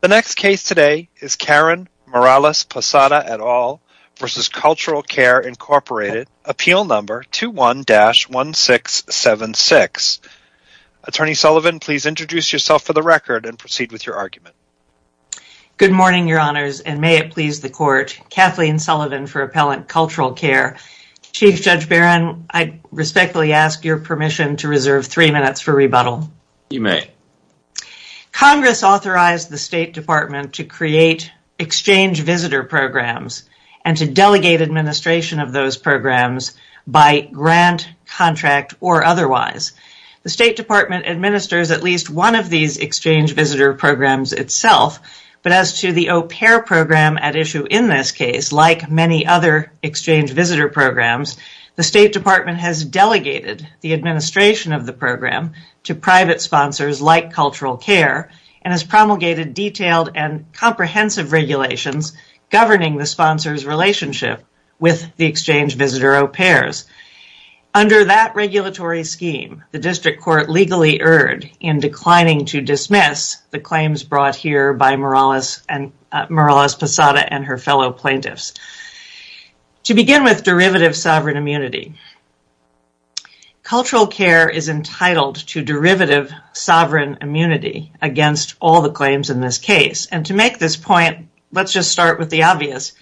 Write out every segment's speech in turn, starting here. The next case today is Karen Morales Posada et al. v. Cultural Care, Inc. Appeal Number 21-1676. Attorney Sullivan, please introduce yourself for the record and proceed with your argument. Good morning, Your Honors, and may it please the Court. Kathleen Sullivan for Appellant Cultural Care. Chief Judge Barron, I respectfully ask your permission to reserve three minutes for State Department to create exchange visitor programs and to delegate administration of those programs by grant, contract, or otherwise. The State Department administers at least one of these exchange visitor programs itself, but as to the au pair program at issue in this case, like many other exchange visitor programs, the State Department has delegated the administration of the program to private sponsors like Cultural Care and has promulgated detailed and comprehensive regulations governing the sponsors' relationship with the exchange visitor au pairs. Under that regulatory scheme, the District Court legally erred in declining to dismiss the claims brought here by Morales Posada and her fellow plaintiffs. To begin with derivative sovereign immunity, Cultural Care is entitled to derivative sovereign immunity against all the claims in this case. To make this point, let's just start with the obvious.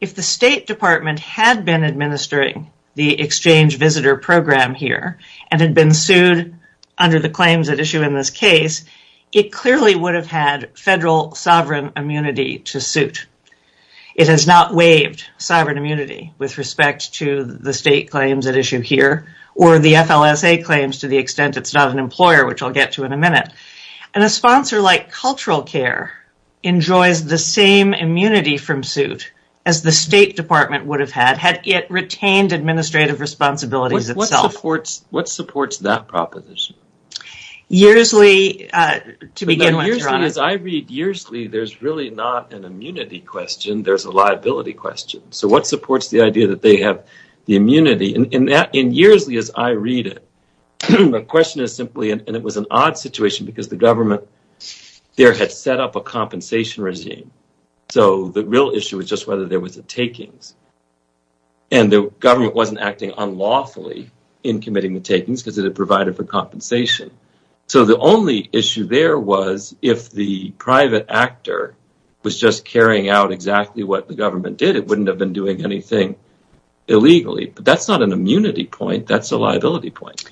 If the State Department had been administering the exchange visitor program here and had been sued under the claims at issue in this case, it clearly would have had federal sovereign immunity to suit. It has not waived sovereign immunity with respect to the state claims at issue here or the FLSA claims to the extent it's not an employer, which I'll get to in a minute. A sponsor like Cultural Care enjoys the same immunity from suit as the State Department would have had, had it retained administrative responsibilities itself. What supports that proposition? As I read Yearsley, there's really not an immunity question. There's a liability question. So what supports the idea that they have the immunity? In Yearsley as I read it, the question is simply and it was an odd situation because the government there had set up a compensation regime. So the real issue was just whether there was a takings and the government wasn't acting unlawfully in committing the takings because it had provided for compensation. So the only issue there was if the private actor was just carrying out exactly what the government did, it wouldn't have been doing anything illegally. But that's not an immunity point. That's a liability point.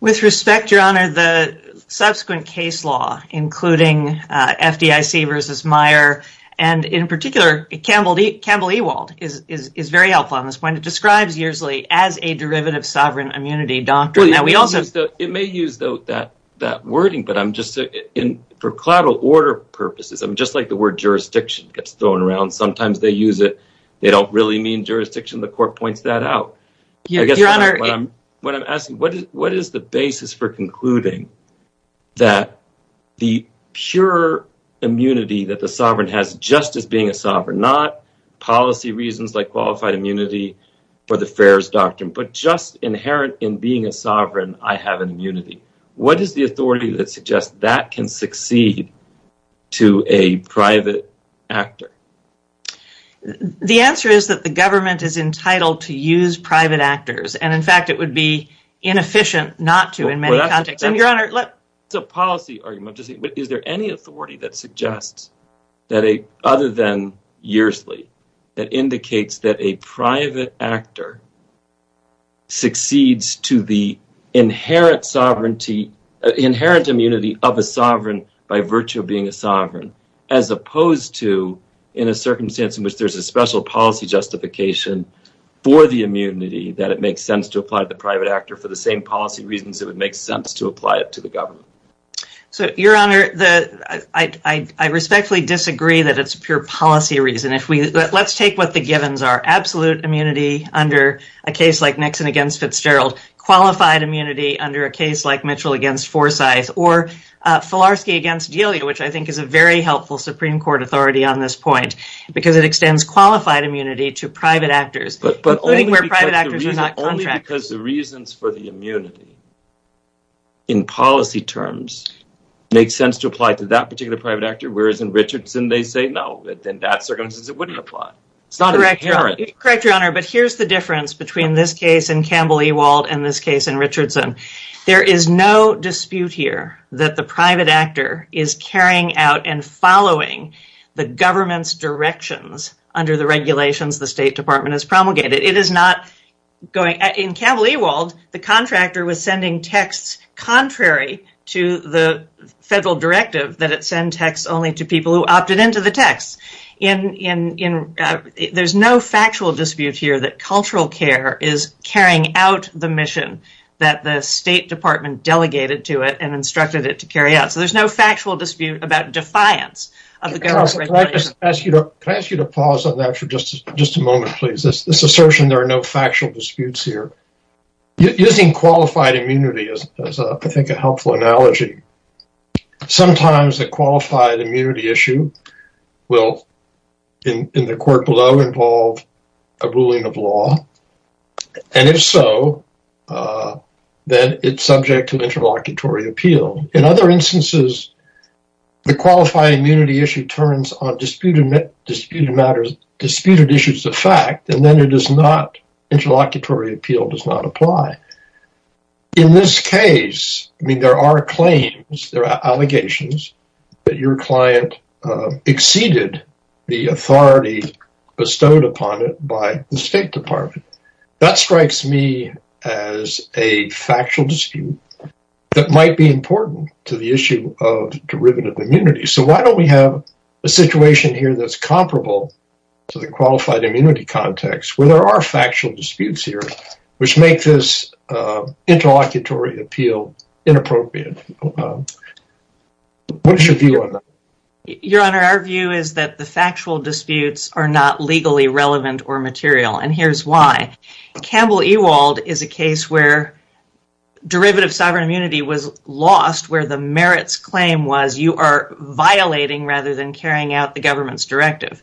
With respect, Your Honor, the subsequent case law, including FDIC versus Meyer, and in particular, Campbell Ewald is very helpful on this point. It describes Yearsley as a derivative sovereign immunity doctrine. It may use that wording, but for collateral order purposes, just like the word jurisdiction gets thrown around, sometimes they use it. They don't really mean jurisdiction. The court points that out. What is the basis for concluding that the pure immunity that the sovereign has just as being a sovereign, not policy reasons like qualified immunity for the fares doctrine, but just inherent in being a sovereign, I have an immunity. What is the authority that suggests that can succeed to a private actor? The answer is that the government is entitled to use private actors. In fact, it would be inefficient not to in many contexts. Is there any authority that suggests, other than Yearsley, that indicates that a private actor succeeds to the inherent immunity of a sovereign by virtue of being a sovereign, as opposed to in a circumstance in which there's a special policy justification for the immunity that it makes sense to apply to the private actor for the same policy reasons it would make sense to apply it to the government? Your Honor, I respectfully disagree that it's pure policy reason. Let's take what the givens absolute immunity under a case like Nixon against Fitzgerald, qualified immunity under a case like Mitchell against Forsyth, or Filarski against Delia, which I think is a very helpful Supreme Court authority on this point, because it extends qualified immunity to private actors. But only because the reasons for the immunity in policy terms make sense to apply to that particular private actor, whereas in Richardson they say no, in that circumstance it wouldn't apply. Correct, Your Honor, but here's the difference between this case in Campbell-Ewald and this case in Richardson. There is no dispute here that the private actor is carrying out and following the government's directions under the regulations the State Department has promulgated. In Campbell-Ewald, the contractor was sending texts contrary to the federal directive that it there's no factual dispute here that cultural care is carrying out the mission that the State Department delegated to it and instructed it to carry out. So there's no factual dispute about defiance of the government's regulations. Counselor, can I ask you to pause on that for just a moment, please? This assertion there are no factual disputes here. Using qualified immunity is, I think, a helpful analogy. Sometimes the qualified immunity issue will, in the court below, involve a ruling of law, and if so, then it's subject to interlocutory appeal. In other instances, the qualified immunity issue turns on disputed issues of fact, and then interlocutory appeal does not apply. In this case, I mean, there are claims, there are allegations that your client exceeded the authority bestowed upon it by the State Department. That strikes me as a factual dispute that might be important to the issue of derivative immunity. So why don't we have a situation here that's comparable to the qualified immunity context where there are factual disputes here, which make this interlocutory appeal inappropriate? What's your view on that? Your Honor, our view is that the factual disputes are not legally relevant or material, and here's why. Campbell Ewald is a case where derivative sovereign immunity was lost where the merits claim was you are violating rather than carrying out the government's directive.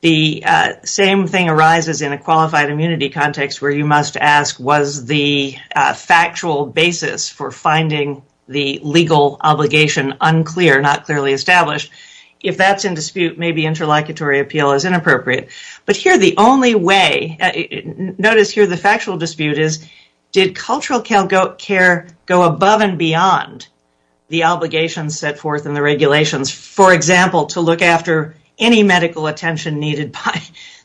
The same thing arises in a qualified immunity context where you must ask was the factual basis for finding the legal obligation unclear, not clearly established. If that's in dispute, maybe interlocutory appeal is inappropriate. But here the only way, notice here the factual dispute is did cultural care go above and beyond the obligations set forth in the regulations, for example, to look after any medical attention needed by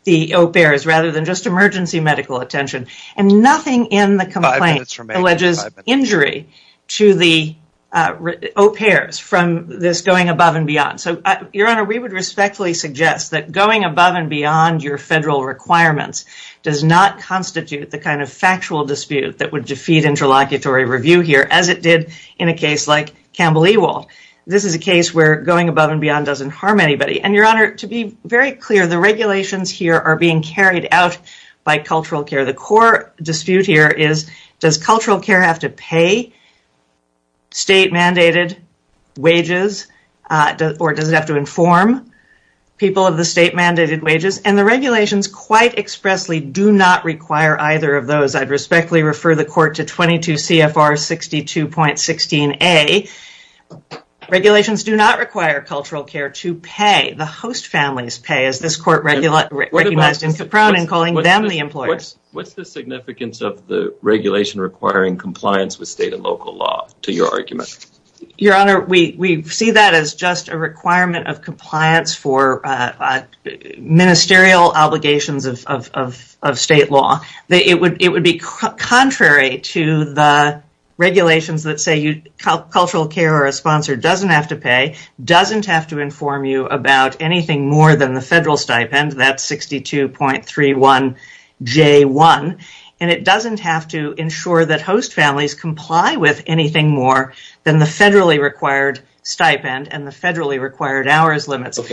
the au pairs rather than just emergency medical attention, and nothing in the complaint alleges injury to the au pairs from this going above and beyond. Your Honor, we would respectfully suggest that going above and beyond your federal requirements does not constitute the kind of factual dispute that would defeat interlocutory review here as it did in a case like Campbell Ewald. This is a case where going above and beyond doesn't harm anybody, and, Your Honor, to be very clear, the regulations here are being carried out by cultural care. The core dispute here is does cultural care have to pay state-mandated wages or does it have to inform people of the state-mandated wages, and the regulations quite to 22 CFR 62.16a. Regulations do not require cultural care to pay. The host families pay, as this court recognized in Caprone in calling them the employers. What's the significance of the regulation requiring compliance with state and local law, to your argument? Your Honor, we see that as just a requirement of compliance for ministerial obligations of state law. It would be contrary to the regulations that say cultural care or a sponsor doesn't have to pay, doesn't have to inform you about anything more than the federal stipend, that 62.31j1, and it doesn't have to ensure that host families comply with anything more than the federally required stipend and the federally required hours limits. So,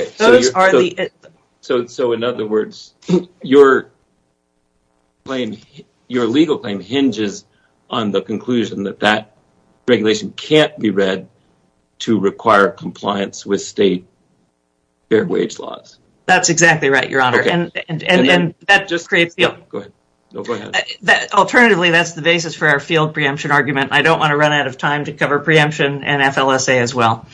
in other words, your legal claim hinges on the conclusion that that regulation can't be read to require compliance with state fair wage laws. That's exactly right, Your Honor, and that just creates the alternative. That's the basis for our field preemption argument. I don't want to run out of time to cover preemption and FLSA as well.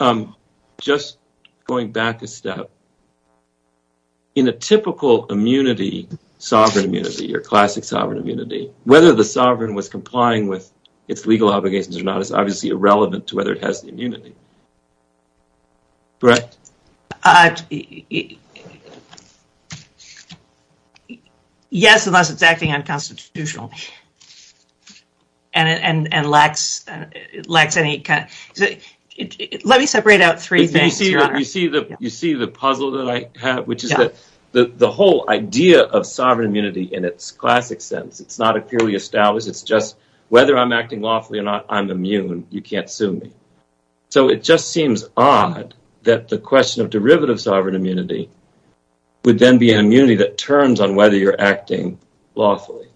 I'm just going back a step. In a typical immunity, sovereign immunity or classic sovereign immunity, whether the sovereign was complying with its legal obligations or not is obviously irrelevant to whether it has the immunity, correct? Yes, unless it's acting unconstitutional. You see the puzzle that I have, which is that the whole idea of sovereign immunity in its classic sense, it's not a purely established. It's just whether I'm acting lawfully or not, I'm immune. You can't sue me. So, it just seems odd that the question of derivative sovereign immunity would then be an immunity that turns on whether you're acting lawfully.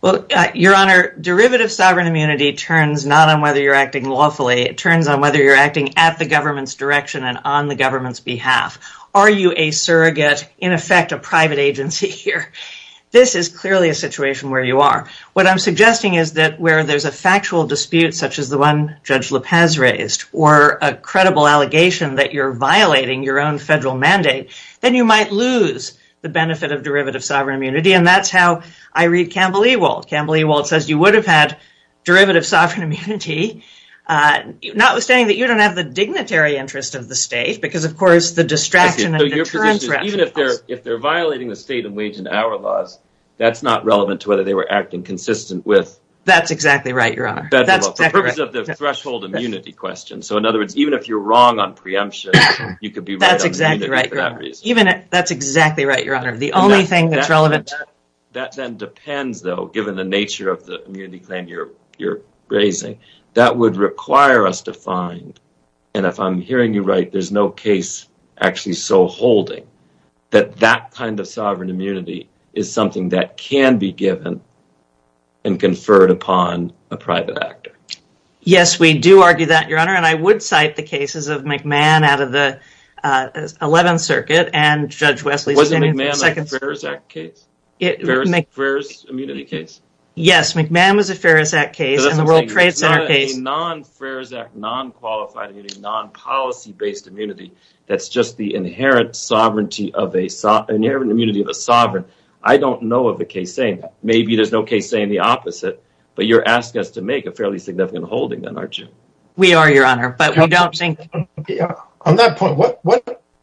Well, Your Honor, derivative sovereign immunity turns not on whether you're acting lawfully. It turns on whether you're acting at the government's direction and on the government's behalf. Are you a surrogate, in effect, a private agency here? This is clearly a situation where you are. What I'm suggesting is that where there's a factual dispute, such as the one Judge Lopez raised, or a credible allegation that you're violating your own federal mandate, then you might lose the benefit of derivative sovereign immunity. That's how I read Campbell Ewald. Campbell Ewald says you would have had derivative sovereign immunity, notwithstanding that you don't have the dignitary interest of the state because, of course, the distraction and deterrence. Even if they're violating the state and wage and hour laws, that's not relevant to whether we're acting consistent with federal law. That's exactly right, Your Honor. For the purpose of the threshold immunity question. So, in other words, even if you're wrong on preemption, you could be right on the immunity for that reason. That's exactly right, Your Honor. The only thing that's relevant... That then depends, though, given the nature of the immunity claim you're raising. That would require us to find, and if I'm hearing you right, there's no case actually so holding, that that kind of sovereign immunity is something that can be given and conferred upon a private actor. Yes, we do argue that, Your Honor, and I would cite the cases of McMahon out of the 11th Circuit and Judge Wesley's opinion. Wasn't McMahon a Farris Act case? A Farris immunity case? Yes, McMahon was a Farris Act case. It's not a non-Farris Act, non-qualified immunity, non-policy-based immunity. That's just the inherent immunity of a sovereign. I don't know of a case saying that. Maybe there's no case saying the opposite, but you're asking us to make a fairly significant holding then, aren't you? We are, Your Honor, but we don't think... On that point,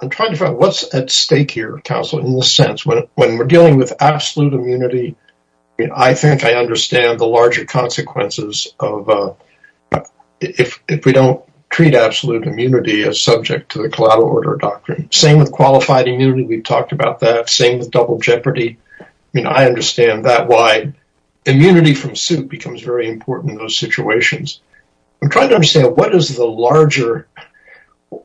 I'm trying to find what's at stake here, counsel, in the sense when we're dealing with absolute immunity, I think I understand the larger consequences if we don't treat absolute immunity as subject to the collateral order doctrine. Same with qualified immunity. We've talked about that. Same with double jeopardy. I understand that why immunity from suit becomes very important in those situations. I'm trying to understand what is the larger...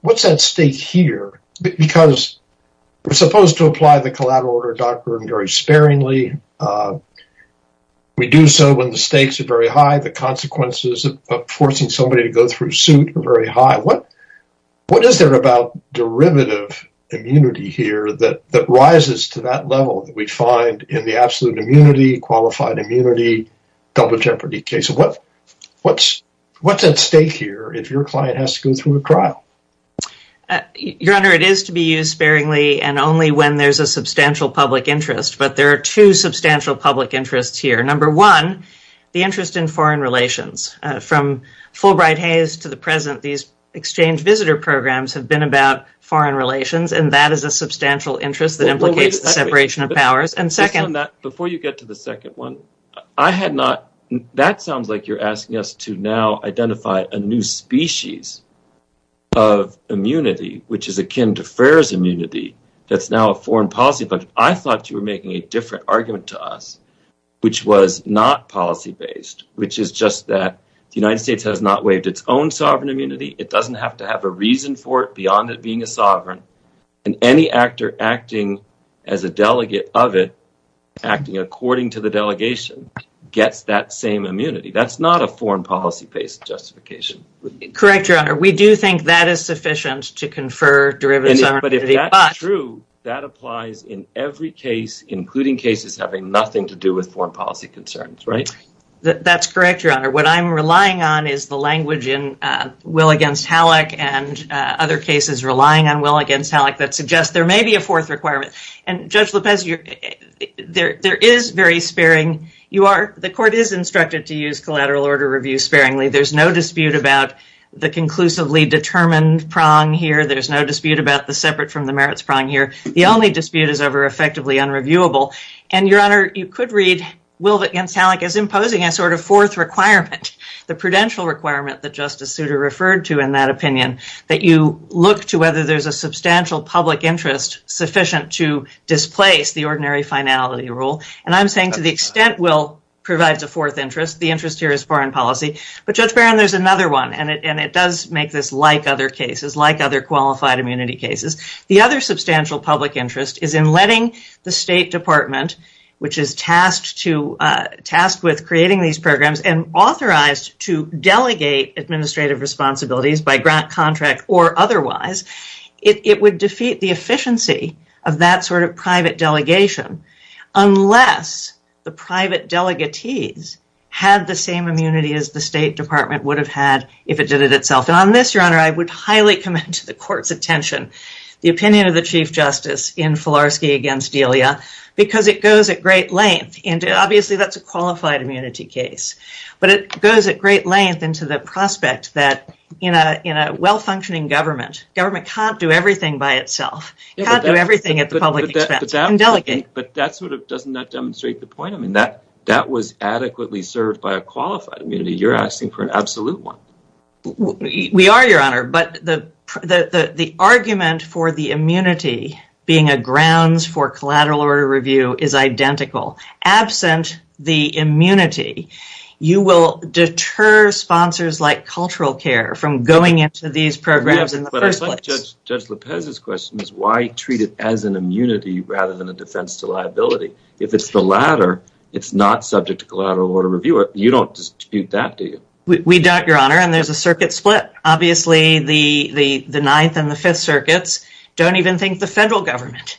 Because we're supposed to apply the collateral order doctrine very sparingly. We do so when the stakes are very high, the consequences of forcing somebody to go through suit are very high. What is there about derivative immunity here that rises to that level that we find in the absolute immunity, qualified immunity, double jeopardy case? What's at stake here if your it is to be used sparingly and only when there's a substantial public interest, but there are two substantial public interests here. Number one, the interest in foreign relations. From Fulbright-Hayes to the present, these exchange visitor programs have been about foreign relations, and that is a substantial interest that implicates the separation of powers. Before you get to the second one, that sounds like you're asking us to now identify a new species of immunity, which is akin to Ferrer's immunity, that's now a foreign policy, but I thought you were making a different argument to us, which was not policy-based, which is just that the United States has not waived its own sovereign immunity. It doesn't have to have a reason for it beyond it being a sovereign, and any actor acting as a delegate of it, acting according to the delegation, gets that same immunity. That's not a foreign policy-based justification. Correct, Your Honor. We do think that is sufficient to confer derivatives. But if that's true, that applies in every case, including cases having nothing to do with foreign policy concerns, right? That's correct, Your Honor. What I'm relying on is the language in Will v. Halleck and other cases relying on Will v. Halleck that suggests there may be a fourth requirement, and Judge Lopez, there is very sparing. The court is instructed to use collateral order review sparingly. There's no dispute about the conclusively determined prong here. There's no dispute about the separate from the merits prong here. The only dispute is over effectively unreviewable, and Your Honor, you could read Will v. Halleck as imposing a sort of fourth requirement, the prudential requirement that Justice Souter referred to in that opinion, that you look to whether there's a substantial public interest sufficient to displace the ordinary finality rule, and I'm saying to the extent Will provides a fourth interest, the interest here is foreign policy, but Judge Barron, there's another one, and it does make this like other cases, like other qualified immunity cases. The other substantial public interest is in letting the State Department, which is tasked with creating these programs and authorized to delegate administrative responsibilities by grant contract or otherwise, it would defeat the efficiency of that sort of private delegation unless the private delegatees had the same immunity as the State Department would have had if it did it itself, and on this, Your Honor, I would highly commend to the court's attention the opinion of the Chief Justice in Filarski v. Delia because it goes at great length, and obviously that's a qualified immunity case, but it goes at great length into the prospect that in a well-functioning government, government can't do everything by itself, can't do everything at public expense and delegate. But that sort of doesn't that demonstrate the point? I mean that that was adequately served by a qualified immunity. You're asking for an absolute one. We are, Your Honor, but the argument for the immunity being a grounds for collateral order review is identical. Absent the immunity, you will deter sponsors like cultural care from going into these programs in the first place. Judge Lopez's question is, why treat it as an immunity rather than a defense to liability? If it's the latter, it's not subject to collateral order review. You don't dispute that, do you? We don't, Your Honor, and there's a circuit split. Obviously, the Ninth and the Fifth Circuits don't even think the federal government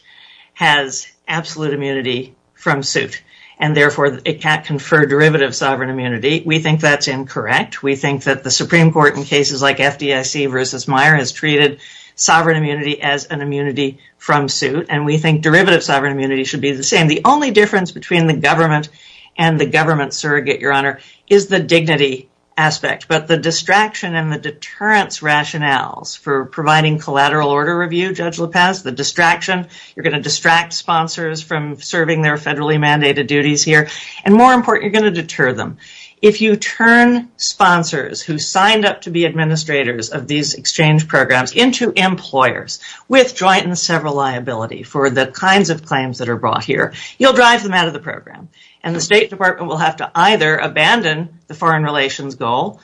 has absolute immunity from suit and therefore it can't confer derivative sovereign immunity. We think that's incorrect. We think that the Supreme Court in cases like FDIC versus Meijer has treated sovereign immunity as an immunity from suit and we think derivative sovereign immunity should be the same. The only difference between the government and the government surrogate, Your Honor, is the dignity aspect. But the distraction and the deterrence rationales for providing collateral order review, Judge Lopez, the distraction, you're going to distract sponsors from serving their federally mandated duties here and more important, you're going to deter them. If you turn sponsors who signed up to be administrators of these exchange programs into employers with joint and several liability for the kinds of claims that are brought here, you'll drive them out of the program and the State Department will have to either abandon the foreign relations goal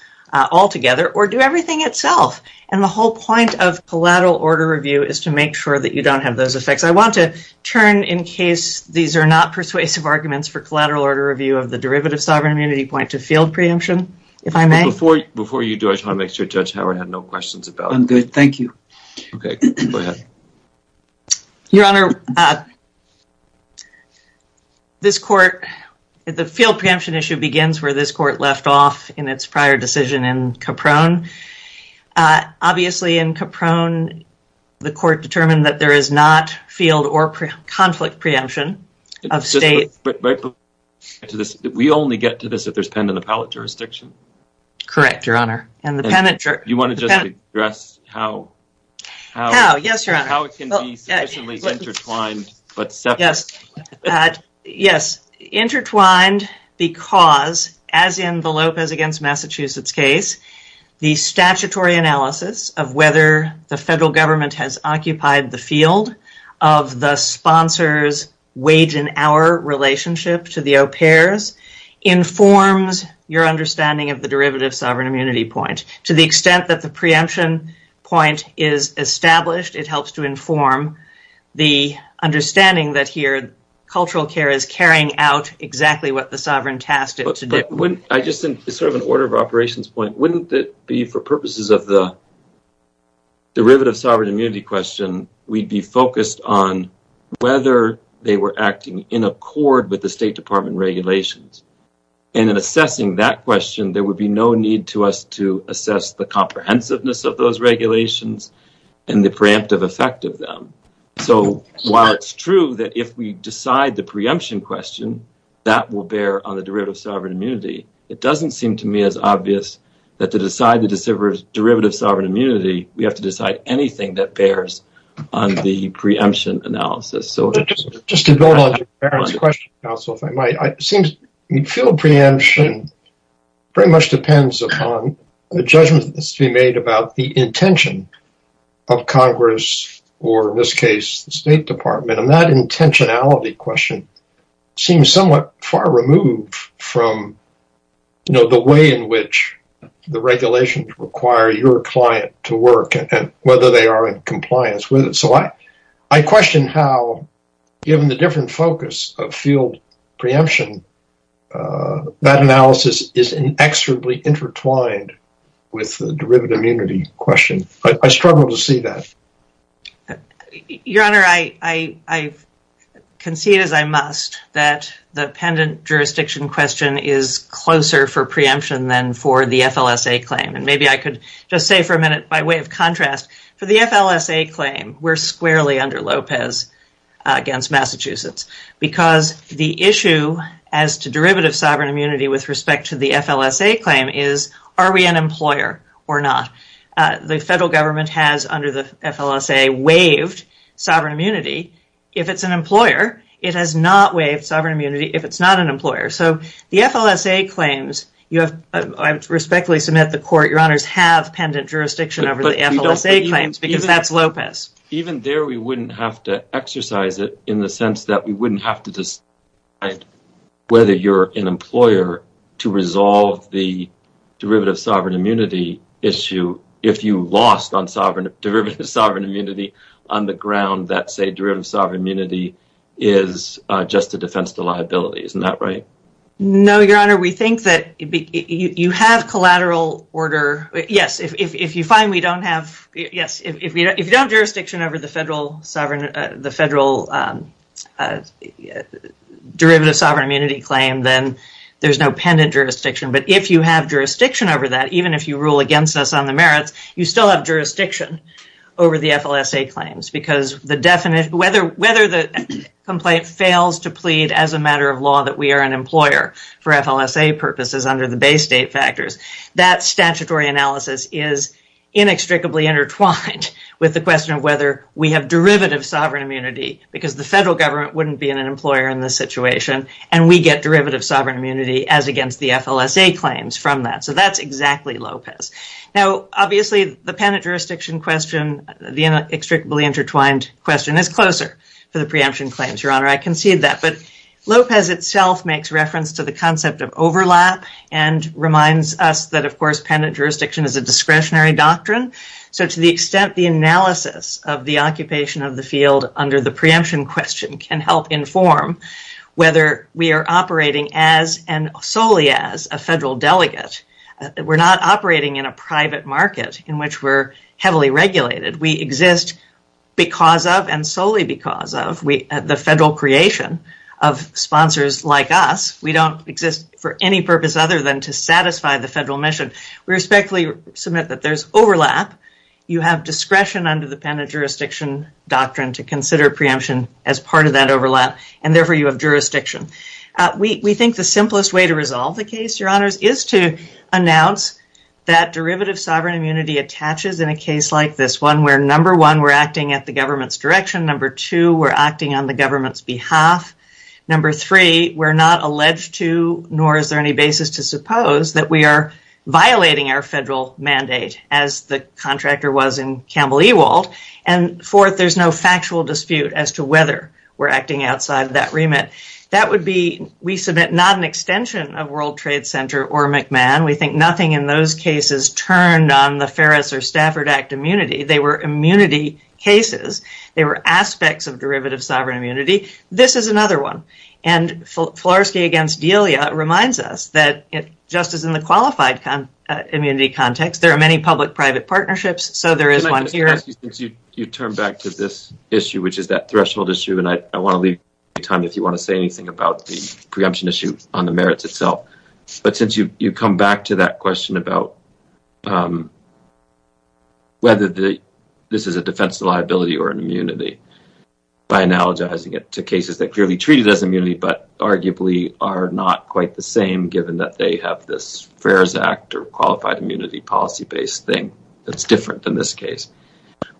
altogether or do everything itself and the whole point of collateral order review is to make sure that you don't have those effects. I sovereign immunity point to field preemption, if I may. Before you do, I just want to make sure Judge Howard had no questions about it. I'm good, thank you. Okay, go ahead. Your Honor, this court, the field preemption issue begins where this court left off in its prior decision in Caprone. Obviously in Caprone, the court determined that there is not field or conflict preemption of state. We only get to this if there's pen in the pallet jurisdiction? Correct, Your Honor. You want to just address how it can be sufficiently intertwined? Yes, intertwined because as in the Lopez against Massachusetts case, the statutory analysis of whether the federal government has occupied the field of the sponsor's wage and hour relationship to the au pairs informs your understanding of the derivative sovereign immunity point. To the extent that the preemption point is established, it helps to inform the understanding that here cultural care is carrying out exactly what the sovereign tasked it to do. I just think it's sort of an order of operations point. Wouldn't it be for on whether they were acting in accord with the State Department regulations? In assessing that question, there would be no need to us to assess the comprehensiveness of those regulations and the preemptive effect of them. While it's true that if we decide the preemption question, that will bear on the derivative sovereign immunity, it doesn't seem to me as obvious that to decide the derivative sovereign immunity, we have to do a preemption analysis. Just to build on your question, counsel, if I might. Field preemption pretty much depends upon the judgment that's to be made about the intention of Congress, or in this case, the State Department. That intentionality question seems somewhat far removed from the way in which the regulations require your client to work and whether they are in compliance with it. I question how, given the different focus of field preemption, that analysis is inexorably intertwined with the derivative immunity question. I struggle to see that. Your Honor, I concede as I must that the pendant jurisdiction question is closer for preemption than for the FLSA claim. Maybe I could just say for a minute, by way of contrast, for the FLSA claim, we're squarely under Lopez against Massachusetts because the issue as to derivative sovereign immunity with respect to the FLSA claim is, are we an employer or not? The federal government has, under the FLSA, waived sovereign immunity. If it's an employer, it has not waived sovereign immunity if it's not an employer. The FLSA claims, I respectfully submit to the Court, Your Honors, have pendant jurisdiction over the FLSA claims because that's Lopez. Even there, we wouldn't have to exercise it in the sense that we wouldn't have to decide whether you're an employer to resolve the derivative sovereign immunity issue if you lost on derivative sovereign immunity on the ground that, say, derivative sovereign immunity is just a defense to liability. Isn't that right? No, Your Honor. We think that you have collateral order. Yes. If you don't have jurisdiction over the federal derivative sovereign immunity claim, then there's no pendant jurisdiction. But if you have jurisdiction over that, even if you rule against us on the merits, you still have jurisdiction over the FLSA claims because whether the complaint fails to plead as a matter of law that we are an employer for FLSA purposes under the Bay State factors, that statutory analysis is inextricably intertwined with the question of whether we have derivative sovereign immunity because the federal government wouldn't be an employer in this situation and we get derivative sovereign immunity as against the FLSA claims from that. That's exactly Lopez. Obviously, the pendant jurisdiction question, the inextricably intertwined question is closer for the preemption claims, Your Honor. I concede that. But Lopez itself makes reference to the concept of overlap and reminds us that, of course, pendant jurisdiction is a discretionary doctrine. So to the extent the analysis of the occupation of the field under the preemption question can help inform whether we are operating as and solely as a federal delegate, we're not operating in a private market in which we're heavily regulated. We exist because of and solely because of the federal creation of sponsors like us. We don't exist for any purpose other than to satisfy the federal mission. We respectfully submit that there's overlap. You have discretion under the pendant jurisdiction doctrine to consider preemption as part of that overlap and therefore you have jurisdiction. We think the simplest way to resolve the case, Your Honors, is to announce that derivative sovereign immunity attaches in a case like this one where, number one, we're acting at the government's direction. Number two, we're acting on the government's behalf. Number three, we're not alleged to nor is there any basis to suppose that we are violating our federal mandate as the contractor was in Campbell Ewald. And fourth, there's no factual dispute as to whether we're acting outside of that remit. That would be, we submit not an extension of World Trade Center or McMahon. We think nothing in those cases turned on the Ferris or Stafford Act immunity. They were immunity cases. They were aspects of derivative sovereign immunity. This is another one and Florsky against Delia reminds us that just as in the qualified immunity context, there are many public-private partnerships so there is one here. You turn back to this issue which is that threshold issue and I want to leave time if you want to say anything about the preemption issue on the merits itself but since you come back to that question about whether this is a defense of liability or an immunity by analogizing it to cases that clearly treated as immunity but arguably are not quite the same given that they have this Ferris Act or qualified immunity policy-based thing that's different than this case.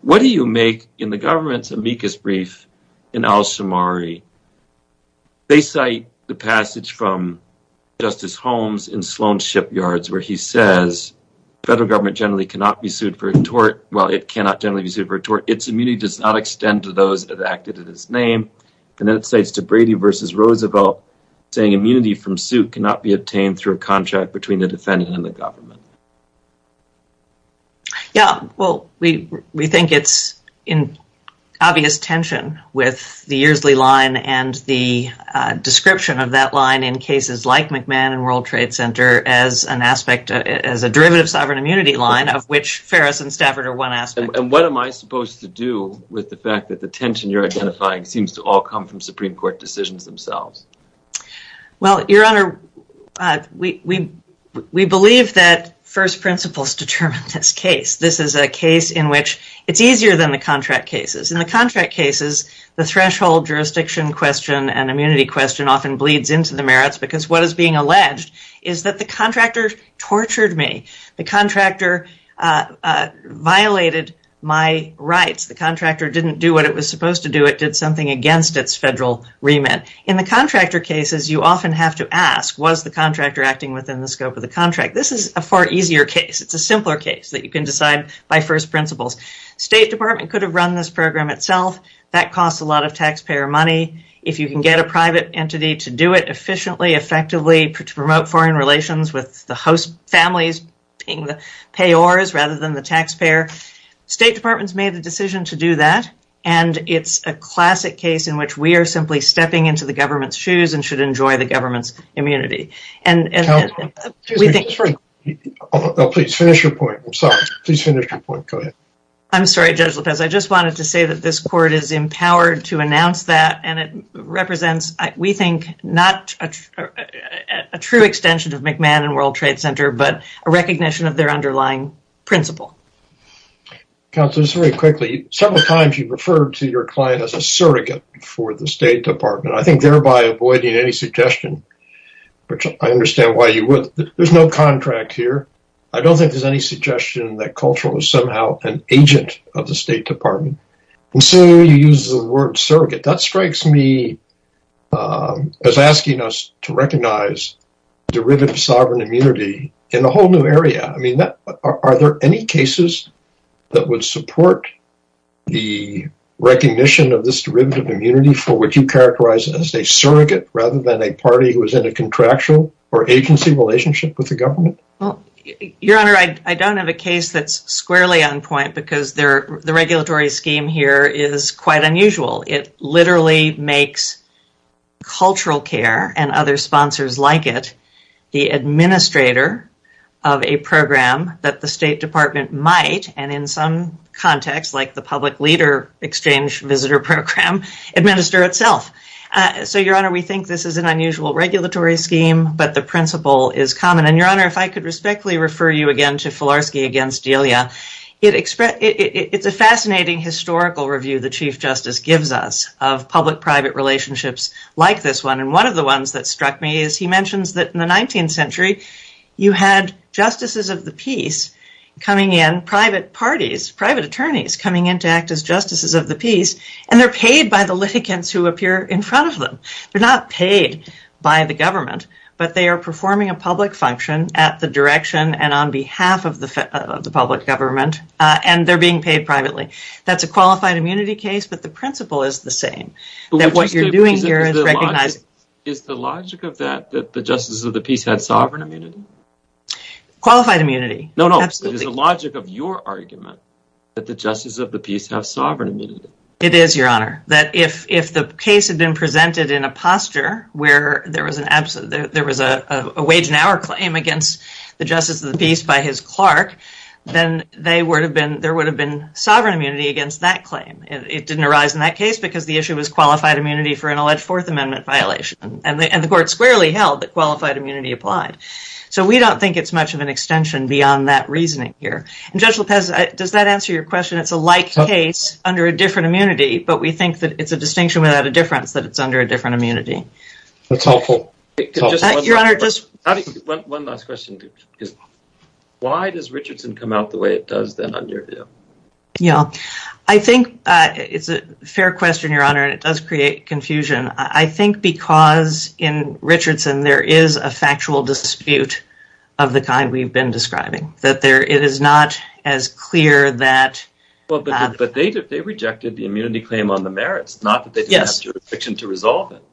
What do you make in the government's amicus brief in Al-Shamari? They cite the passage from Justice Holmes in Sloan Shipyards where he says federal government generally cannot be sued for a tort. Well, it cannot generally be sued for a tort. Its immunity does not extend to those that acted in his name and then it states to Brady versus Roosevelt saying immunity from suit cannot be obtained through a contract between the defendant and the government. Yeah, well we think it's in obvious tension with the Yearsley line and the description of that line in cases like McMahon and World Trade Center as an aspect as a derivative sovereign immunity line of which Ferris and Stafford are one aspect. And what am I supposed to do with the fact that the tension you're identifying seems to all come from Supreme Court. I believe that first principles determine this case. This is a case in which it's easier than the contract cases. In the contract cases, the threshold jurisdiction question and immunity question often bleeds into the merits because what is being alleged is that the contractor tortured me. The contractor violated my rights. The contractor didn't do what it was supposed to do. It did something against its federal remit. In the contractor cases, you often have to ask was the contractor acting within the federal remit. This is a far easier case. It's a simpler case that you can decide by first principles. State Department could have run this program itself. That costs a lot of taxpayer money. If you can get a private entity to do it efficiently, effectively, to promote foreign relations with the host families being the payors rather than the taxpayer. State Department's made the decision to do that and it's a classic case in which we are simply stepping into the government's shoes and should enjoy the government's immunity. Please finish your point. I'm sorry. Please finish your point. Go ahead. I'm sorry, Judge Lopez. I just wanted to say that this court is empowered to announce that and it represents, we think, not a true extension of McMahon and World Trade Center but a recognition of their underlying principle. Counselors, very quickly, several times you referred to your client as a surrogate for the State Department. I think thereby avoiding any suggestion, which I understand why you would. There's no contract here. I don't think there's any suggestion that Cultural is somehow an agent of the State Department. And so you use the word surrogate. That strikes me as asking us to recognize derivative sovereign immunity in a whole new area. I mean, are there any cases that would support the recognition of this derivative community for which you characterize as a surrogate rather than a party who is in a contractual or agency relationship with the government? Your Honor, I don't have a case that's squarely on point because the regulatory scheme here is quite unusual. It literally makes Cultural Care and other sponsors like it the administrator of a program that the State administers itself. So, Your Honor, we think this is an unusual regulatory scheme, but the principle is common. And Your Honor, if I could respectfully refer you again to Filarski v. Delia, it's a fascinating historical review the Chief Justice gives us of public-private relationships like this one. And one of the ones that struck me is he mentions that in the 19th century, you had justices of the peace coming in, private parties, private attorneys coming in to justices of the peace, and they're paid by the litigants who appear in front of them. They're not paid by the government, but they are performing a public function at the direction and on behalf of the public government, and they're being paid privately. That's a qualified immunity case, but the principle is the same. Is the logic of that that the justices of the peace had sovereign immunity? Qualified immunity. No, no. It is the logic of your argument that the justices of the peace have sovereign immunity. It is, Your Honor, that if the case had been presented in a posture where there was a wage and hour claim against the justices of the peace by his clerk, then there would have been sovereign immunity against that claim. It didn't arise in that case because the issue was qualified immunity for an alleged Fourth Amendment violation, and the court squarely held that qualified immunity applied. So, we don't think it's much of an extension beyond that reasoning here. Judge Lopez, does that answer your question? It's a like case under a different immunity, but we think that it's a distinction without a difference, that it's under a different immunity. That's helpful. Your Honor, just one last question. Why does Richardson come out the way it does then under you? Yeah, I think it's a fair question, Your Honor, and it does create confusion. I think because in Richardson there is a factual dispute of the kind we've been describing, that it is not as clear. But they rejected the immunity claim on the merits, not that they didn't have jurisdiction to resolve it.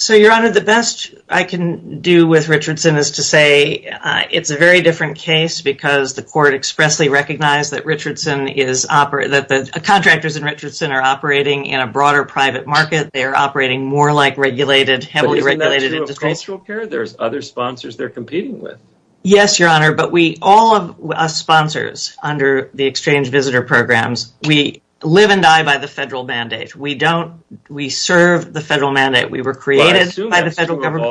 So, Your Honor, the best I can do with Richardson is to say it's a very different case because the court expressly recognized that the contractors in Richardson are operating in a broader private market. They are operating more like heavily regulated industries. But isn't that true of cultural care? There's other Yes, Your Honor, but all of us sponsors under the exchange visitor programs, we live and die by the federal mandate. We don't, we serve the federal mandate. We were created by the federal government.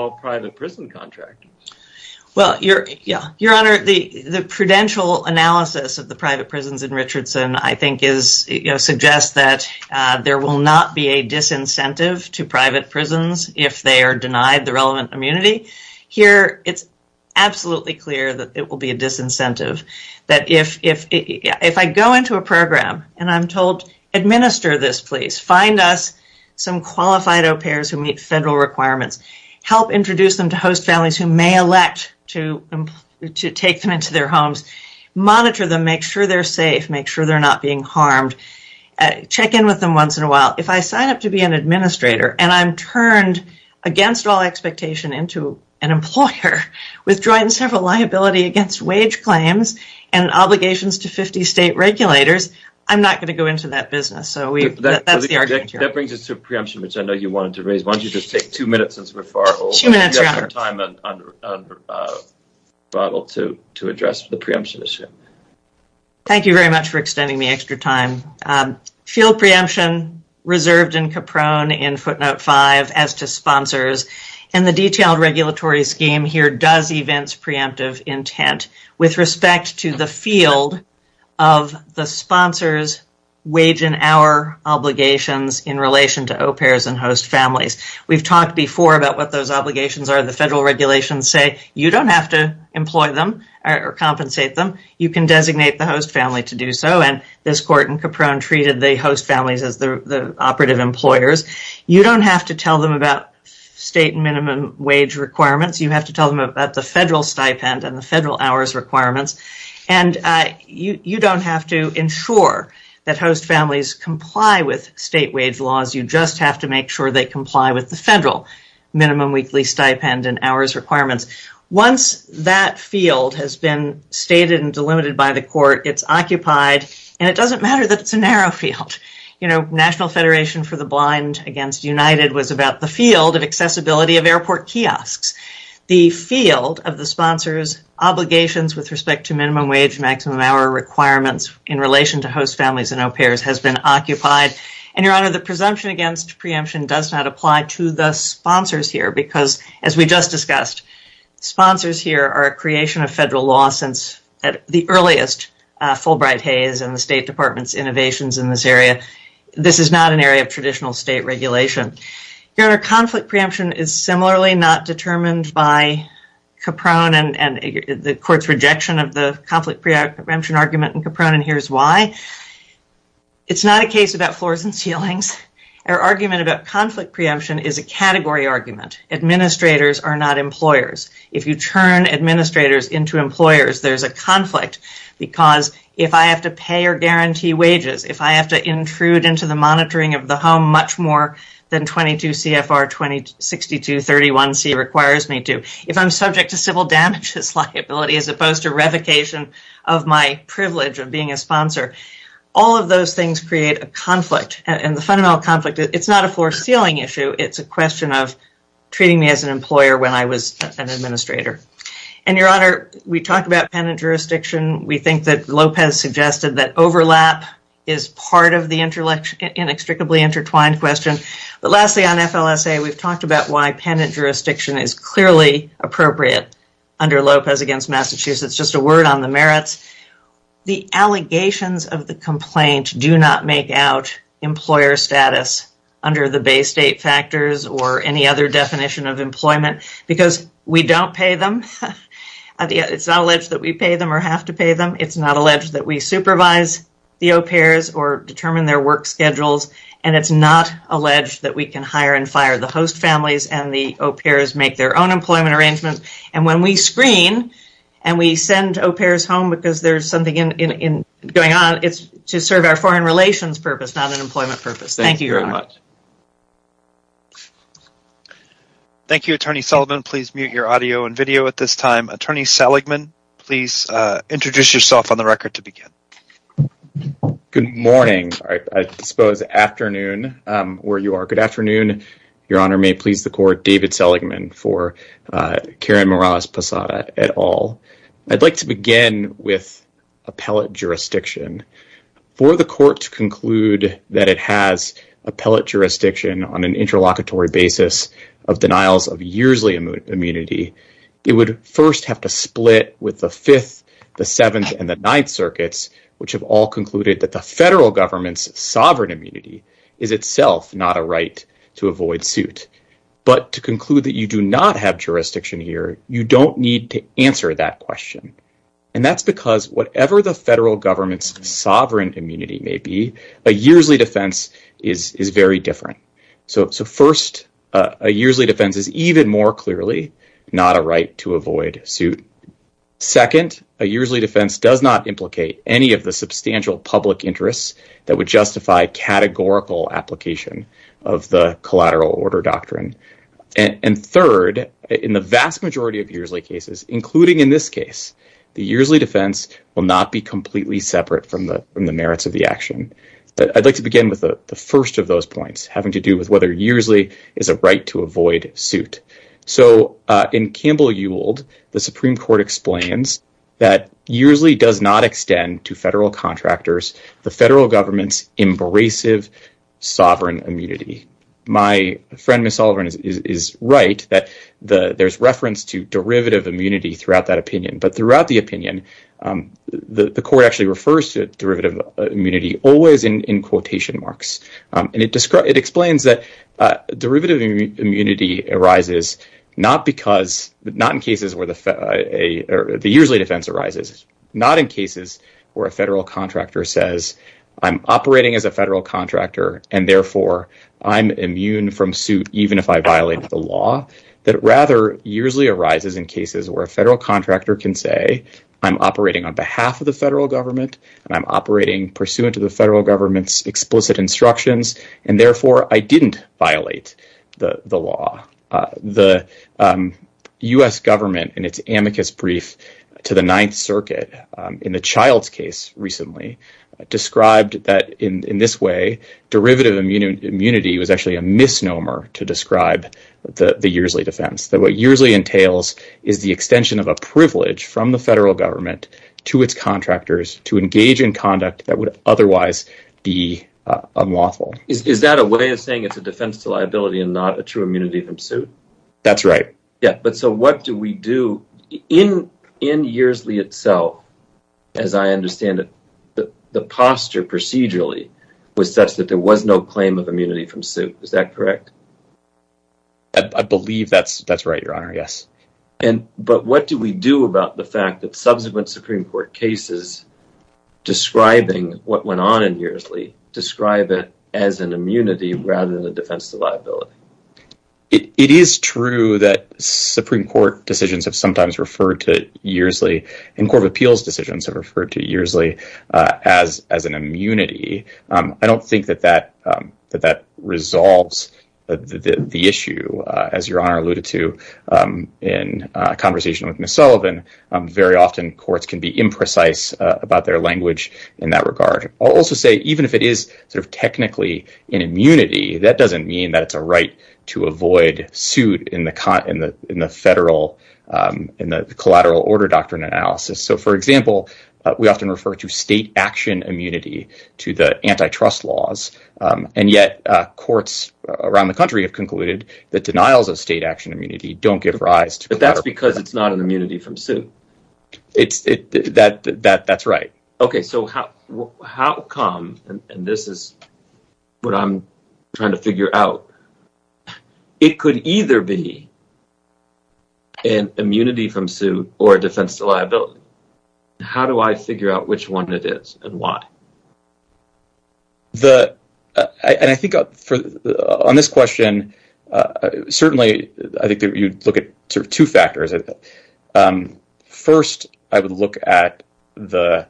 Well, Your Honor, the prudential analysis of the private prisons in Richardson, I think, suggests that there will not be a disincentive to private prisons if they are denied the relevant immunity. Here, it's absolutely clear that it will be a disincentive. If I go into a program and I'm told, administer this, please, find us some qualified au pairs who meet federal requirements, help introduce them to host families who may elect to take them into their homes, monitor them, make sure they're safe, make sure they're not being harmed, check in with them once in a while. If I sign up to be an administrator and I'm turned against all expectation into an employer, withdrawing several liability against wage claims and obligations to 50 state regulators, I'm not going to go into that business. That brings us to preemption, which I know you wanted to raise. Why don't you just take two minutes since we're far over. You have more time to address the preemption issue. Thank you very much for extending the extra time. Field preemption, reserved in Caprone in footnote five as to sponsors. The detailed regulatory scheme here does events preemptive intent with respect to the field of the sponsors wage and hour obligations in relation to au pairs and host families. We've talked before about what those obligations are. The federal regulations say you don't have to employ them or compensate them. You can designate the host family to do so. This court in Caprone treated the host families as operative employers. You don't have to tell them about state minimum wage requirements. You have to tell them about the federal stipend and the federal hours requirements. You don't have to ensure that host families comply with state wage laws. You just have to make sure they comply with the federal minimum weekly stipend and hours requirements. Once that field has been stated and delimited by the court, it's occupied. It doesn't matter that it's a narrow field. National Federation for the Blind against United was about the field of accessibility of airport kiosks. The field of the sponsors obligations with respect to minimum wage, maximum hour requirements in relation to host families and au pairs has been occupied. Your Honor, the presumption against preemption does not apply to the sponsors here because as we just discussed, sponsors here are a creation of federal law since the earliest Fulbright-Hayes and the this is not an area of traditional state regulation. Your Honor, conflict preemption is similarly not determined by Caprone and the court's rejection of the conflict preemption argument in Caprone and here's why. It's not a case about floors and ceilings. Our argument about conflict preemption is a category argument. Administrators are not employers. If you turn administrators into employers, there's a conflict because if I have to pay or guarantee wages, if I have to intrude into the monitoring of the home much more than 22 CFR 2062 31C requires me to, if I'm subject to civil damages liability as opposed to revocation of my privilege of being a sponsor, all of those things create a conflict and the fundamental conflict, it's not a floor ceiling issue. It's a question of treating me as an employer when I was an administrator. Your Honor, we talked about penitent jurisdiction. We think that Lopez suggested that overlap is part of the inextricably intertwined question but lastly on FLSA, we've talked about why penitent jurisdiction is clearly appropriate under Lopez against Massachusetts. Just a word on the merits. The allegations of the complaint do not make out employer status under the Bay State factors or any other definition of employment because we don't pay them. It's not alleged that we supervise the au pairs or determine their work schedules and it's not alleged that we can hire and fire the host families and the au pairs make their own employment arrangements and when we screen and we send au pairs home because there's something going on, it's to serve our foreign relations purpose, not an employment purpose. Thank you. Thank you, Attorney Sullivan. Please mute your audio and video at this time. Attorney Seligman, please introduce yourself on the record to begin. Good morning, I suppose afternoon where you are. Good afternoon, Your Honor. May it please the court, David Seligman for Karen Morales-Posada et al. I'd like to begin with appellate jurisdiction. For the court to conclude that it has appellate jurisdiction on an interlocutory basis of denials of yearsly immunity, it would first have to split with the 5th, the 7th, and the 9th circuits which have all concluded that the federal government's sovereign immunity is itself not a right to avoid suit. But to conclude that you do not have jurisdiction here, you don't need to answer that question and that's because whatever the federal government's sovereign immunity may be, a yearsly defense is very much a right to avoid suit. Second, a yearsly defense does not implicate any of the substantial public interests that would justify categorical application of the collateral order doctrine. And third, in the vast majority of yearsly cases, including in this case, the yearsly defense will not be completely separate from the merits of the action. I'd like to begin with the first of those points having to do with whether yearsly is a right to avoid suit. So in Campbell-Yould, the Supreme Court explains that yearsly does not extend to federal contractors the federal government's abrasive sovereign immunity. My friend Miss Oliver is right that there's reference to derivative immunity throughout that opinion. But throughout the opinion, the court actually refers to derivative immunity always in quotation marks. And it explains that derivative immunity arises not in cases where the yearsly defense arises, not in cases where a federal contractor says, I'm operating as a federal contractor and therefore I'm immune from suit even if I violate the law, that rather, yearsly arises in cases where a federal contractor can say, I'm operating on behalf of the federal government and I'm operating pursuant to the federal government's explicit instructions, and therefore I didn't violate the law. The U.S. government in its amicus brief to the Ninth Circuit in the Child's case recently described that in this way, derivative immunity was actually a misnomer to describe the yearsly defense, that what privilege from the federal government to its contractors to engage in conduct that would otherwise be unlawful. Is that a way of saying it's a defense to liability and not a true immunity from suit? That's right. Yeah, but so what do we do in yearsly itself? As I understand it, the posture procedurally was such that there was no claim of immunity from suit. Is that correct? I believe that's right, Your Honor, yes. But what do we do about the fact that subsequent Supreme Court cases describing what went on in yearsly describe it as an immunity rather than a defense to liability? It is true that Supreme Court decisions have sometimes referred to yearsly and Court of Appeals decisions have referred to yearsly as an immunity. I don't think that that resolves the issue, as Your Honor alluded to in a conversation with Ms. Sullivan. Very often, courts can be imprecise about their language in that regard. I'll also say even if it is sort of technically an immunity, that doesn't mean that it's a right to avoid suit in the collateral order doctrine analysis. So for example, we often refer to state action immunity to the antitrust laws, and yet courts around the country have concluded that denials of state action immunity don't give rise to... But that's because it's not an immunity from suit. That's right. Okay, so how come, and this is what I'm trying to figure out, it could either be an immunity from suit or a defense to liability. How do I figure out which one it is and why? I think on this question, certainly, I think you'd look at two factors. First, I would look at the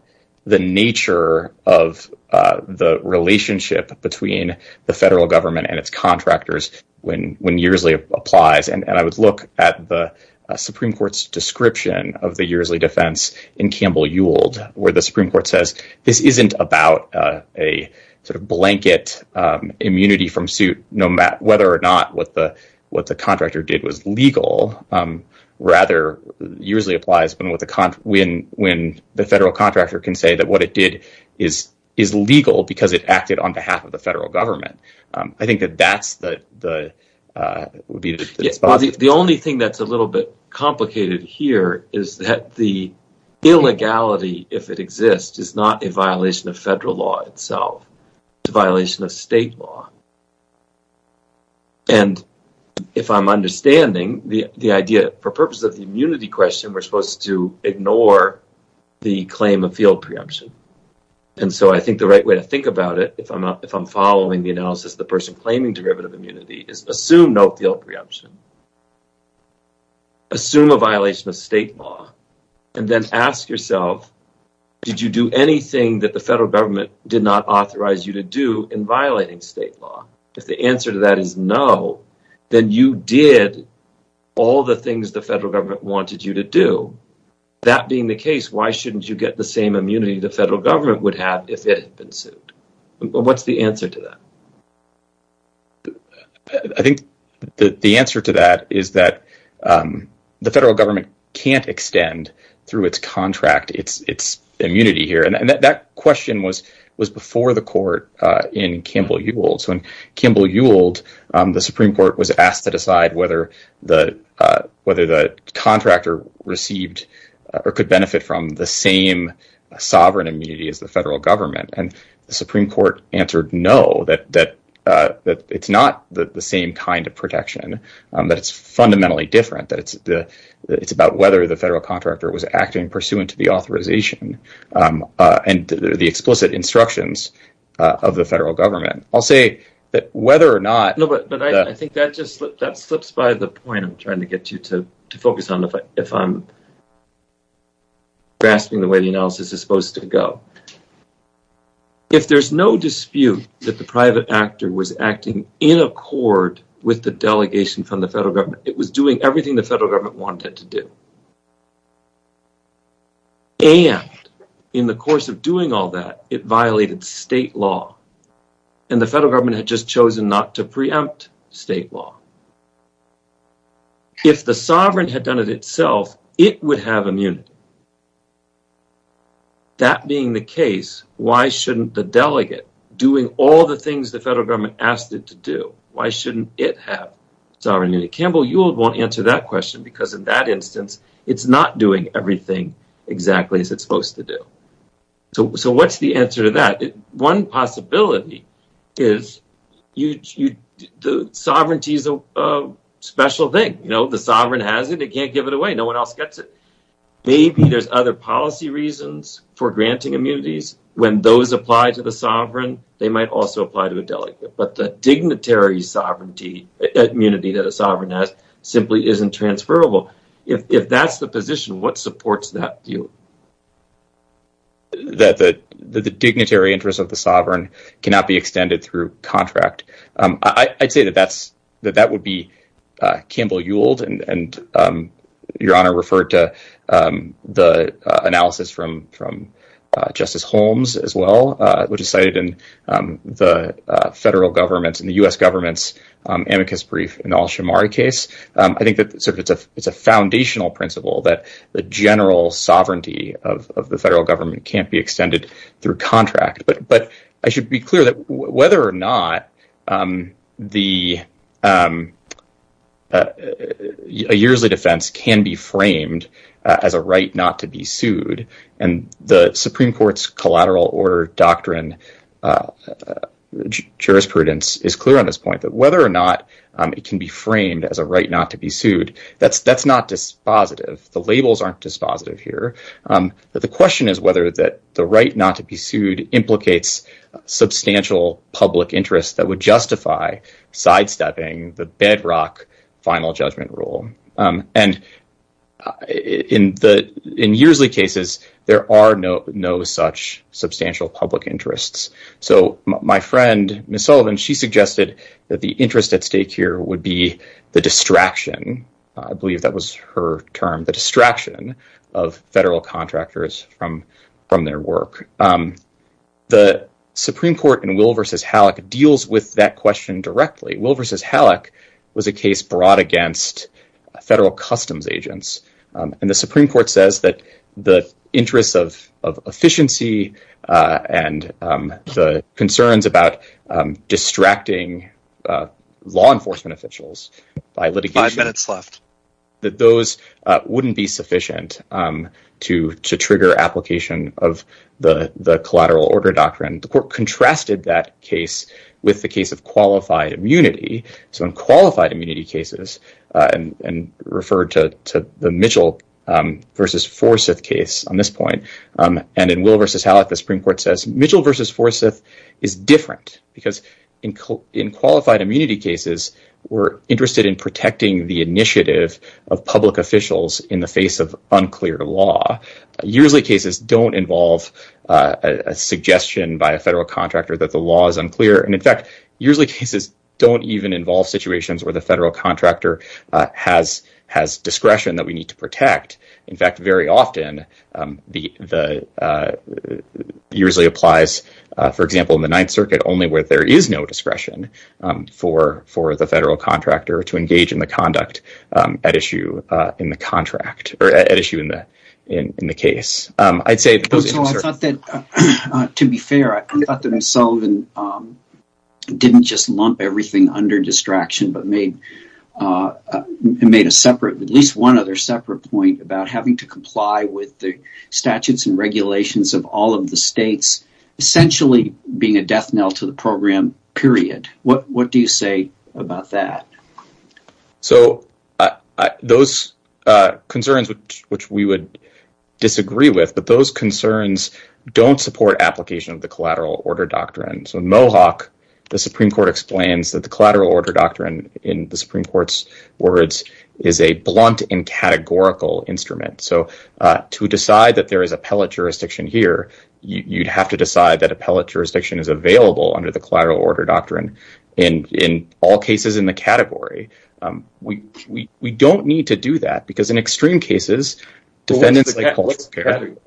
nature of the relationship between the federal government and its contractors when yearsly applies, and I would look at the Supreme Court's description of the yearsly defense in Campbell-Yule, where the Supreme Court says this isn't about a sort of blanket immunity from suit, no matter whether or not what the contractor did was legal. Rather, usually applies when the federal contractor can say that what it did is legal because it acted on behalf of the federal government. I think that that's the... is that the illegality, if it exists, is not a violation of federal law itself. It's a violation of state law, and if I'm understanding the idea for purpose of the immunity question, we're supposed to ignore the claim of field preemption, and so I think the right way to think about it, if I'm following the analysis, the person claiming derivative immunity is assume no field preemption, assume a violation of state law, and then ask yourself, did you do anything that the federal government did not authorize you to do in violating state law? If the answer to that is no, then you did all the things the federal government wanted you to do. That being the case, why shouldn't you get the same immunity the federal government would have if it had been sued? What's the answer to that? I think the answer to that is that the federal government can't extend through its contract its immunity here, and that question was before the court in Campbell-Yuild. So in Campbell-Yuild, the Supreme Court was asked to decide whether the contractor received or could benefit from the same sovereign immunity as the federal government, and the Supreme Court answered no, that it's not the same kind of protection, that it's fundamentally different, that it's about whether the federal contractor was acting pursuant to the authorization and the explicit instructions of the federal government. I'll say that whether or not... No, but I think that slips by the point I'm trying to get you to focus on, if I'm supposed to go. If there's no dispute that the private actor was acting in accord with the delegation from the federal government, it was doing everything the federal government wanted to do, and in the course of doing all that, it violated state law, and the federal government had just chosen not to preempt state law. If the sovereign had done it itself, it would have immunity. That being the case, why shouldn't the delegate, doing all the things the federal government asked it to do, why shouldn't it have sovereign immunity? Campbell-Yuild won't answer that question, because in that instance, it's not doing everything exactly as it's supposed to do. So what's the answer to that? One possibility is sovereignty is a special thing. The sovereign has it. They can't give it away. No one else gets it. Maybe there's other policy reasons for granting immunities. When those apply to the sovereign, they might also apply to a delegate, but the dignitary immunity that a sovereign has simply isn't transferable. If that's the position, what supports that view? The dignitary interest of the sovereign cannot be extended through contract. I'd say that that would be Campbell-Yuild, and Your Honor referred to the analysis from Justice Holmes as well, which is cited in the federal government and the U.S. government's amicus brief in the Al-Shammari case. I think that it's a foundational principle that the general sovereignty of the federal government can't be extended through contract, but I should be clear whether or not a yearly defense can be framed as a right not to be sued, and the Supreme Court's collateral order doctrine jurisprudence is clear on this point, that whether or not it can be framed as a right not to be sued, that's not dispositive. The labels aren't dispositive here. The question is whether the right not to be sued implicates substantial public interest that would justify sidestepping the bedrock final judgment rule, and in the in yearsly cases, there are no such substantial public interests. So my friend, Ms. Sullivan, she suggested that the interest at from their work. The Supreme Court in Will v. Halleck deals with that question directly. Will v. Halleck was a case brought against federal customs agents, and the Supreme Court says that the interests of efficiency and the concerns about distracting law enforcement officials by litigation, that those wouldn't be sufficient to trigger application of the collateral order doctrine. The court contrasted that case with the case of qualified immunity. So in qualified immunity cases, and referred to the Mitchell v. Forsyth case on this point, and in Will v. Halleck, the Supreme Court says Mitchell v. Forsyth is different because in qualified immunity cases, we're interested in protecting the initiative of public officials in the face of unclear law. Yearsly cases don't involve a suggestion by a federal contractor that the law is unclear, and in fact, yearsly cases don't even involve situations where the federal contractor has discretion that we need to protect. In fact, very often, the yearsly applies, for example, in the Ninth Circuit, only where there is no discretion for the federal contractor to engage in the conduct at issue in the contract, or at issue in the case. I'd say... To be fair, I thought that Sullivan didn't just lump everything under distraction, but made a separate, at least one other separate point, about having to comply with the statutes and being a death knell to the program, period. What do you say about that? So those concerns, which we would disagree with, but those concerns don't support application of the collateral order doctrine. So in Mohawk, the Supreme Court explains that the collateral order doctrine, in the Supreme Court's words, is a blunt and categorical instrument. So to decide that there is appellate jurisdiction here, you'd have to decide that appellate jurisdiction is available under the collateral order doctrine in all cases in the category. We don't need to do that because in extreme cases, defendants like cultural care... What's the category?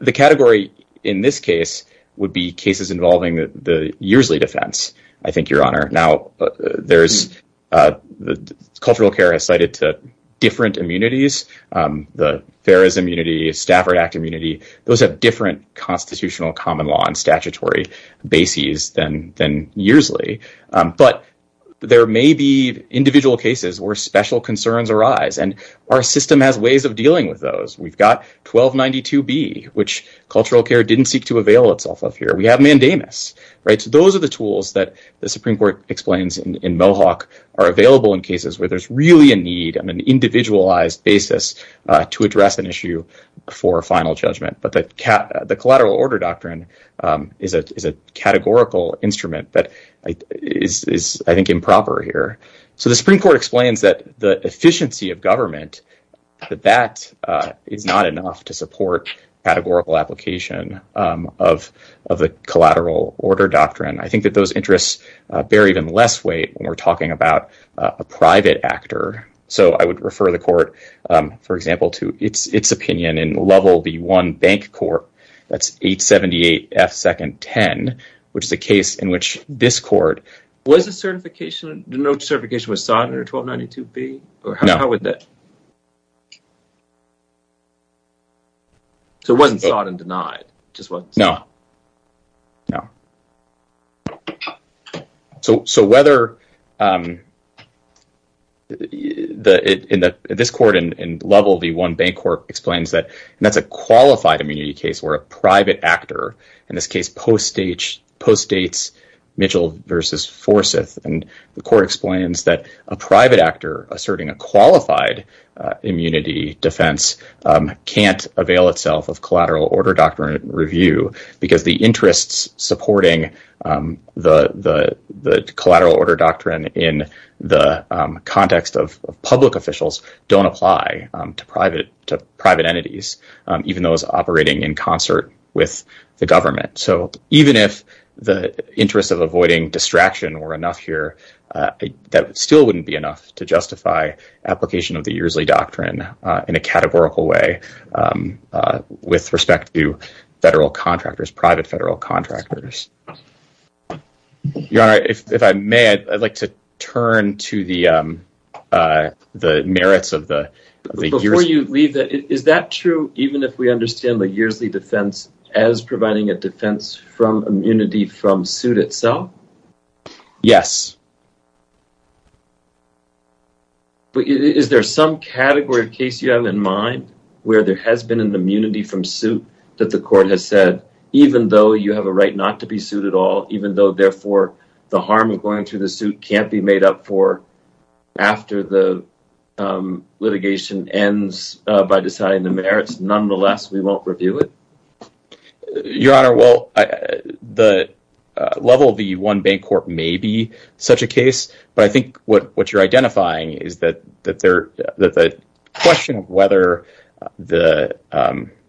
The category in this case would be cases involving the yearsly defense, I think, Your Honor. Now, there's... Cultural care has cited different immunities. The Ferris Immunity, Stafford Act Immunity, those have different constitutional common law and statutory bases than yearsly. But there may be individual cases where special concerns arise, and our system has ways of dealing with those. We've got 1292B, which cultural care didn't seek to avail itself of here. We have tools that the Supreme Court explains in Mohawk are available in cases where there's really a need on an individualized basis to address an issue for a final judgment. But the collateral order doctrine is a categorical instrument that is, I think, improper here. So the Supreme Court explains that the efficiency of government, that that is not enough to support categorical application of the collateral order doctrine. I think that those interests bear even less weight when we're talking about a private actor. So I would refer the court, for example, to its opinion in level B1 bank court, that's 878F second 10, which is a case in which this court... Was the certification was sought under 1292B, or how would that... So it wasn't sought and denied, just wasn't sought? No, no. So whether... This court in level B1 bank court explains that that's a qualified immunity case where a private actor, in this case, postdates Mitchell versus Forsyth. And the court explains that a private actor asserting a qualified immunity defense can't avail itself of collateral order doctrine review because the interests supporting the collateral order doctrine in the context of public officials don't apply to private entities, even those operating in concert with the government. So even if the interests of avoiding distraction were enough here, that still wouldn't be enough to justify application of the Uresley Doctrine in a categorical way with respect to federal contractors, private federal contractors. Your Honor, if I may, I'd like to turn to the merits of the... Before you leave, is that true even if we understand the Uresley defense as providing a defense from immunity from suit itself? Yes. But is there some category of case you have in mind where there has been an immunity from suit that the court has said, even though you have a right not to be sued at all, even though therefore the harm of going through the suit can't be made up for after the litigation ends by deciding the merits, nonetheless, we won't review it? Your Honor, well, the level of the one bank court may be such a case, but I think what you're identifying is that the question of the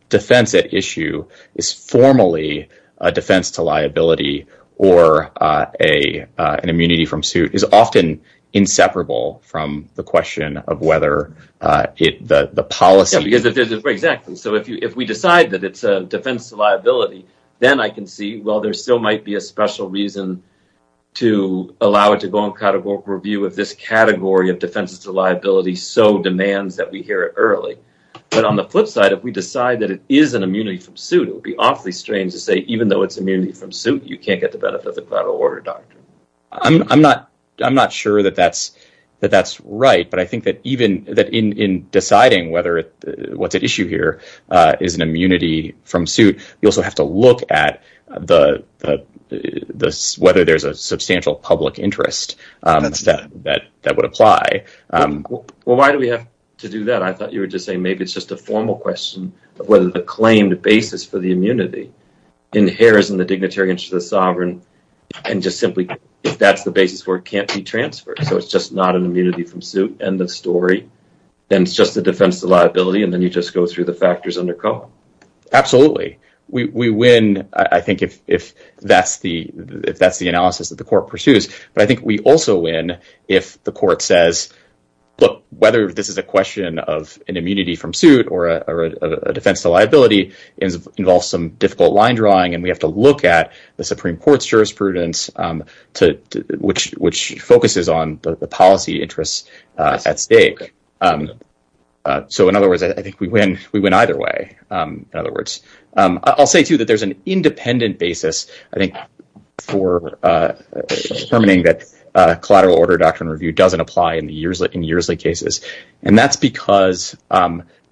defense at issue is formally a defense to liability or an immunity from suit is often inseparable from the question of whether the policy... Exactly. So if we decide that it's a defense to liability, then I can see, well, there still might be a special reason to allow it to go on categorical review if this category of defenses to liability so demands that we hear it but on the flip side, if we decide that it is an immunity from suit, it would be awfully strange to say even though it's immunity from suit, you can't get the benefit of the collateral order, doctor. I'm not sure that that's right, but I think that in deciding whether what's at issue here is an immunity from suit, you also have to look at whether there's a substantial public interest that would apply. Well, why do we have to do that? I thought you were just saying maybe it's just a formal question of whether the claimed basis for the immunity inheres in the dignitary interest of the sovereign and just simply, if that's the basis where it can't be transferred, so it's just not an immunity from suit, end of story, then it's just a defense to liability, and then you just go through the factors under COHA. Absolutely. We win, I think, if that's the case, but we also win if the court says, look, whether this is a question of an immunity from suit or a defense to liability involves some difficult line drawing and we have to look at the Supreme Court's jurisprudence which focuses on the policy interests at stake. So in other words, I think we win either way. In other words, I'll say too that there's an collateral order doctrine review doesn't apply in the Yersley cases, and that's because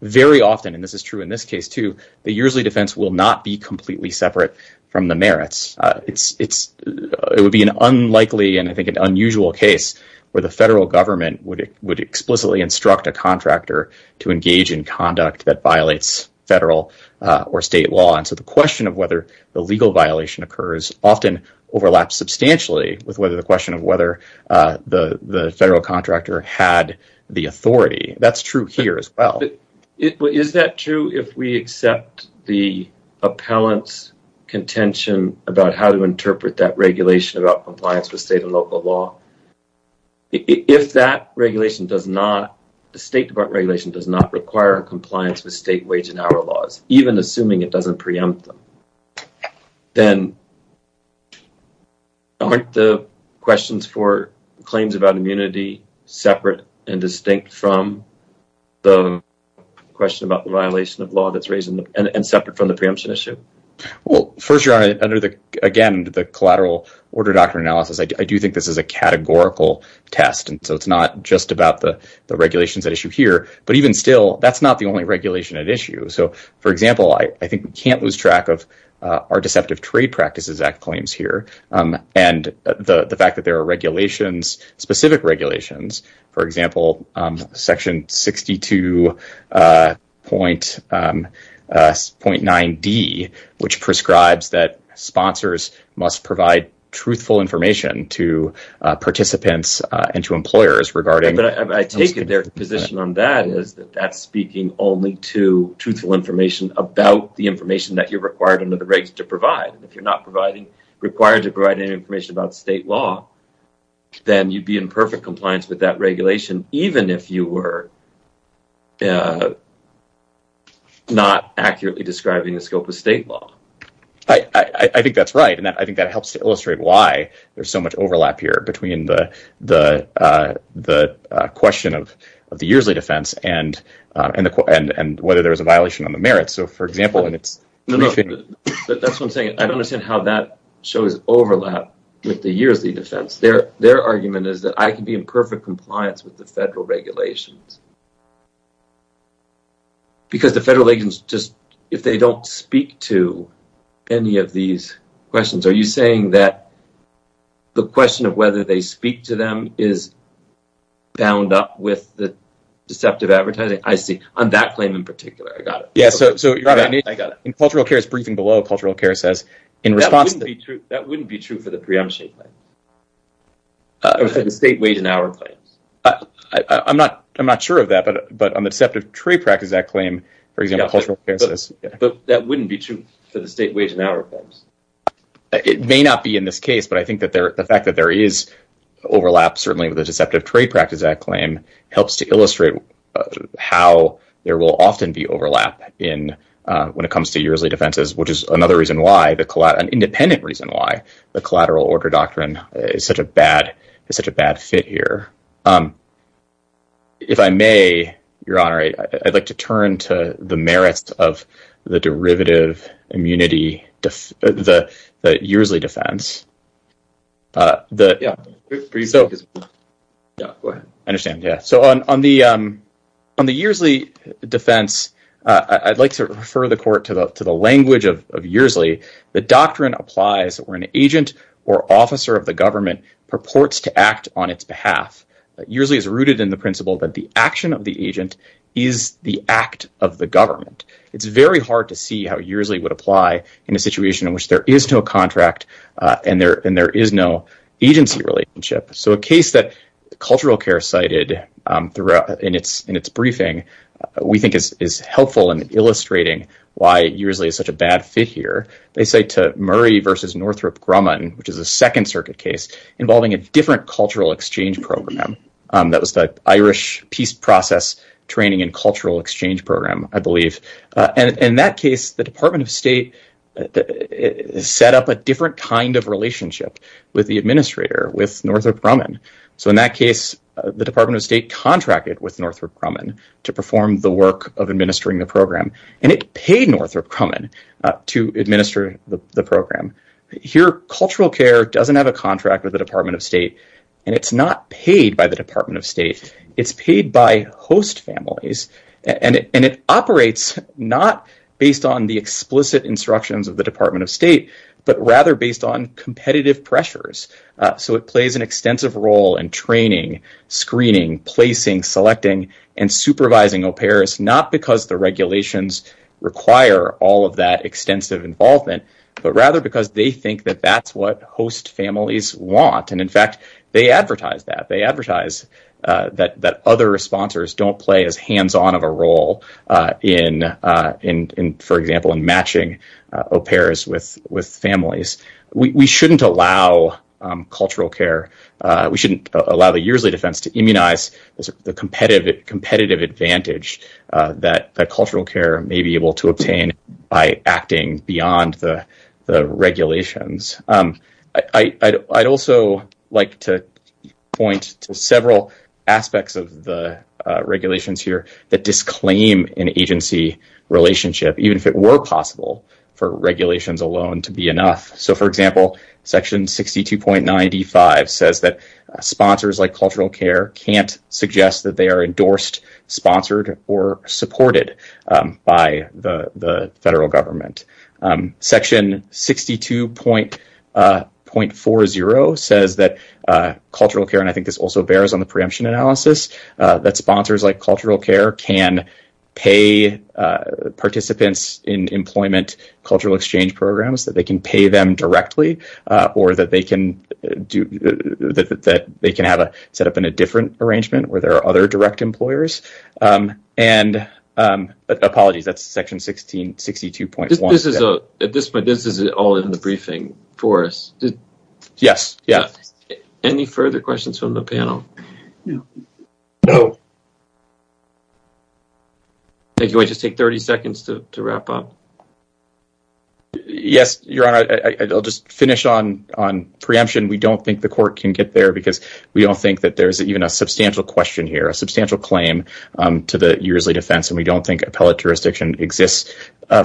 very often, and this is true in this case too, the Yersley defense will not be completely separate from the merits. It would be an unlikely and I think an unusual case where the federal government would explicitly instruct a contractor to engage in conduct that violates federal or state law, and so the question of whether the legal violation occurs often overlaps substantially with the question of whether the federal contractor had the authority. That's true here as well. Is that true if we accept the appellant's contention about how to interpret that regulation about compliance with state and local law? If that regulation does not, the State Department regulation does not require compliance with state wage and hour laws, even assuming it doesn't preempt them. Then aren't the questions for claims about immunity separate and distinct from the question about the violation of law that's raised and separate from the preemption issue? Well, first your honor, under the again the collateral order doctrine analysis, I do think this is a categorical test, and so it's not just about the regulations at issue here, but even still that's not the only regulation at issue. So for example, I think we can't lose track of our deceptive trade practices act claims here, and the fact that there are regulations, specific regulations, for example section 62.9d, which prescribes that sponsors must provide truthful information to participants and to employers regarding... I take it their position on that is that that's speaking only to truthful information about the information that you're required under the regs to provide. If you're not providing required to provide any information about state law, then you'd be in perfect compliance with that regulation, even if you were not accurately describing the scope of state law. I think that's right, and I think that helps to and whether there's a violation on the merits. So for example, and it's... But that's what I'm saying, I don't understand how that shows overlap with the yearly defense. Their argument is that I can be in perfect compliance with the federal regulations, because the federal agents just, if they don't speak to any of these questions, are you saying that the question of whether they speak to them is bound up with the deceptive advertising? I see, on that claim in particular, I got it. Yes, so in cultural care's briefing below, cultural care says in response... That wouldn't be true for the preemption claim, or for the state wage and hour claims. I'm not sure of that, but on the deceptive trade practice that claim, for example, cultural care says... But that wouldn't be true for the state wage and hour forms. It may not be in this case, but I think that the fact that there is overlap, certainly with the deceptive trade practice that claim, helps to illustrate how there will often be overlap in when it comes to yearly defenses, which is another reason why, an independent reason why, the collateral order doctrine is such a bad fit here. If I may, Your Honor, I'd like to turn to the merits of the derivative immunity, the Yearly Defense. Yeah, go ahead. I understand, yeah. So on the Yearly Defense, I'd like to refer the court to the language of Yearly. The doctrine applies where an agent or officer of the government purports to act on its behalf. Yearly is rooted in the principle that the action of the agent is the act of the government. It's very hard to see how Yearly would apply in a situation in which there is no contract and there is no agency relationship. So a case that cultural care cited in its briefing, we think is helpful in illustrating why Yearly is such a bad fit here. They say to Murray versus Northrop Grumman, which is a Second Circuit case involving a different cultural exchange program, that was the Irish Peace Process Training and Cultural Exchange Program, I believe. And in that case, the Department of State set up a different kind of relationship with the administrator, with Northrop Grumman. So in that case, the Department of State contracted with Northrop Grumman to perform the work of administering the program, and it paid Northrop Grumman to administer the program. Here, cultural care doesn't have a And it's not paid by the Department of State. It's paid by host families, and it operates not based on the explicit instructions of the Department of State, but rather based on competitive pressures. So it plays an extensive role in training, screening, placing, selecting, and supervising au pairs, not because the regulations require all of that extensive involvement, but rather because they think that that's what host families want. And in fact, they advertise that. They advertise that other sponsors don't play as hands-on of a role for example, in matching au pairs with families. We shouldn't allow cultural care. We shouldn't allow the Yearly defense to immunize the competitive advantage that cultural care may be able to obtain by acting beyond the regulations. I'd also like to point to several aspects of the regulations here that disclaim an agency relationship, even if it were possible for regulations alone to be enough. So for example, section 62.95 says that sponsors like cultural care can't suggest that they are endorsed, sponsored, or supported by the federal government. Section 62.40 says that cultural care, and I think this also bears on the preemption analysis, that sponsors like cultural care can pay participants in employment cultural exchange programs, that they can pay them directly, or that they can have it set up in a different arrangement where there are other direct employers. Apologies, that's section 62.1. At this point, this is all in the briefing for us. Yes, yeah. Any further questions from the panel? No. No. Thank you. I just take 30 seconds to wrap up. Yes, Your Honor, I'll just finish on preemption. We don't think the court can get there because we don't think that there's even a substantial question here, a substantial claim to the Yearly defense, and we don't think appellate jurisdiction exists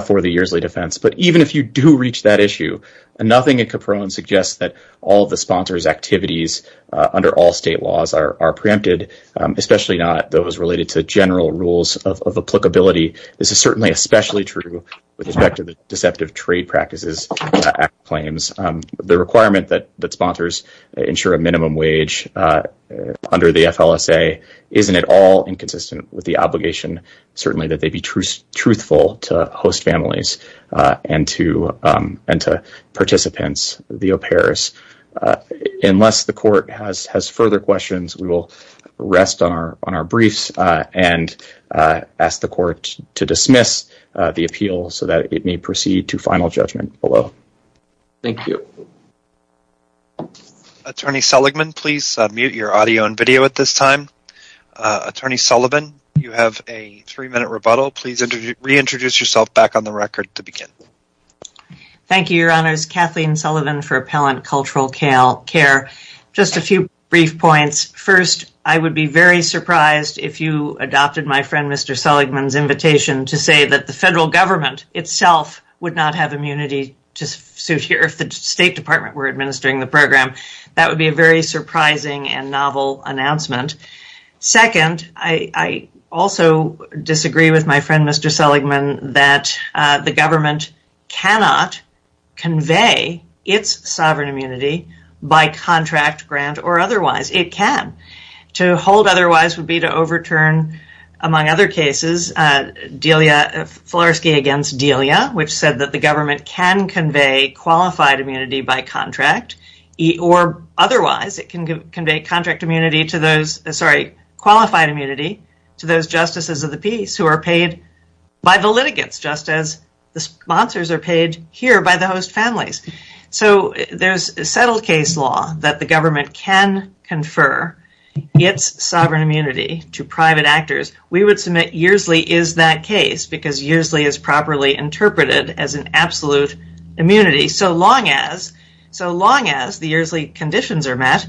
for the Yearly defense. But even if you do reach that issue, nothing in Caprone suggests that all of the sponsors' activities under all state laws are preempted, especially not those related to general rules of applicability. This is certainly especially true with respect to the deceptive trade practices at claims. The requirement that sponsors ensure a minimum wage under the FLSA isn't at all inconsistent with the obligation, certainly, that they be truthful to host families and to participants, the au pairs. Unless the court has further questions, we will rest on our briefs and ask the court to dismiss the appeal so that it may proceed to final judgment below. Thank you. Attorney Seligman, please mute your audio and video at this time. Attorney Sullivan, you have a three-minute rebuttal. Please reintroduce yourself back on the record to begin. Thank you, Your Honors. Kathleen Sullivan for Appellant Cultural Care. Just a few brief points. First, I would be very surprised if you adopted my friend Mr. Seligman's invitation to say that the federal government itself would not have immunity to suit here if the State Department were administering the program. That would be a very surprising and novel announcement. Second, I also disagree with my friend Mr. Seligman that the government cannot convey its sovereign immunity by contract, grant, or otherwise. It can. To hold otherwise would be to overturn, among other cases, Florsky v. Delia, which said that the government can convey qualified immunity by contract, or otherwise it can convey qualified immunity to those justices of the peace who are paid by the litigants, just as the sponsors are paid here by the host families. There is a settled case law that the government can confer its sovereign immunity to private actors. We would submit that Yearsley is that case because Yearsley is properly interpreted as an absolute immunity, so long as the Yearsley conditions are met,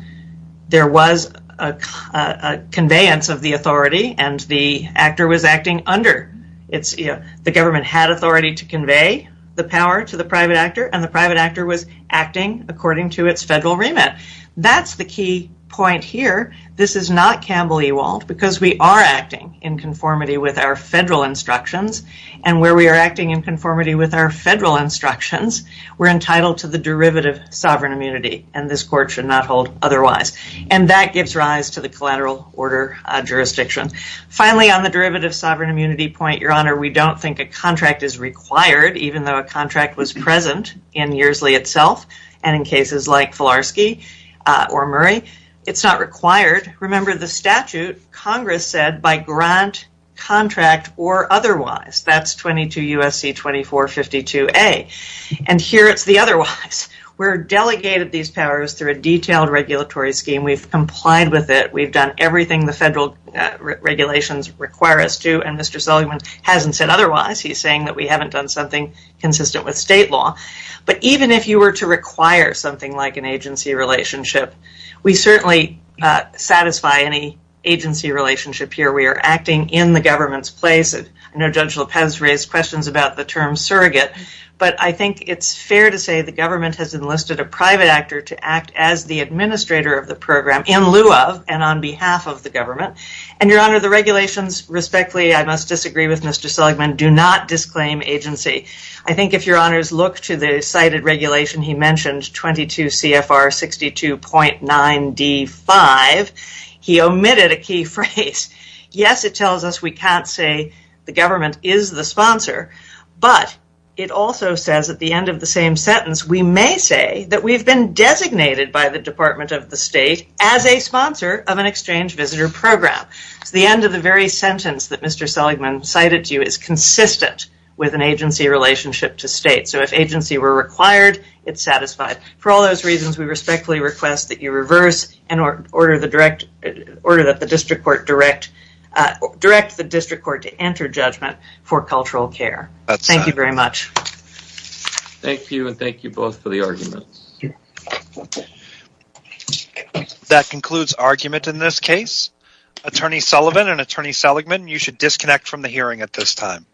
there was a conveyance of the authority and the actor was acting under. The government had authority to convey the power to the private actor, and the private actor was acting according to its federal remit. That's the key point here. This is not Campbell-Ewald, because we are acting in conformity with our federal instructions, and where we are acting in conformity with our federal instructions, we are entitled to the derivative sovereign immunity, and this court should not hold otherwise. That gives rise to the collateral order jurisdiction. Finally, on the derivative sovereign immunity point, Your Honor, we don't think a contract is required, even though a contract was present in Yearsley itself, and in cases like Florsky or Murray. It's not required. Remember the statute, Congress said, by grant, contract, or otherwise. That's 22 U.S.C. 2452A, and here it's the otherwise. We are delegated these powers through a detailed regulatory scheme. We have complied with it. We have done everything the federal regulations require us to, and Mr. Seligman hasn't said otherwise. He is saying that we haven't done something consistent with state law, but even if you were to require something like an agency relationship, we certainly satisfy any agency relationship here. We are acting in the government's place. I know Judge Lopez raised questions about the term surrogate, but I think it's fair to say the government has enlisted a private actor to act as the administrator of the program in lieu of and on behalf of the government, and Your Honor, the regulations, respectfully, I must disagree with Mr. Seligman, do not disclaim agency. I think if Your Honors look to the cited regulation he mentioned, 22 CFR 62.9D5, he omitted a key phrase. Yes, it tells us we can't say the government is the sponsor, but it also says at the end of the same sentence, we may say that we've been designated by the Department of the State as a sponsor of an exchange visitor program. The end of the very sentence that Mr. Seligman cited to you is consistent with an agency relationship to state, so if agency were required, it's satisfied. For all those reasons, we respectfully request that you reverse and order that the district court direct the district court to enter judgment for cultural care. Thank you very much. Thank you, and thank you both for the arguments. That concludes argument in this case. Attorney Sullivan and Attorney Seligman, you should disconnect from the hearing at this time.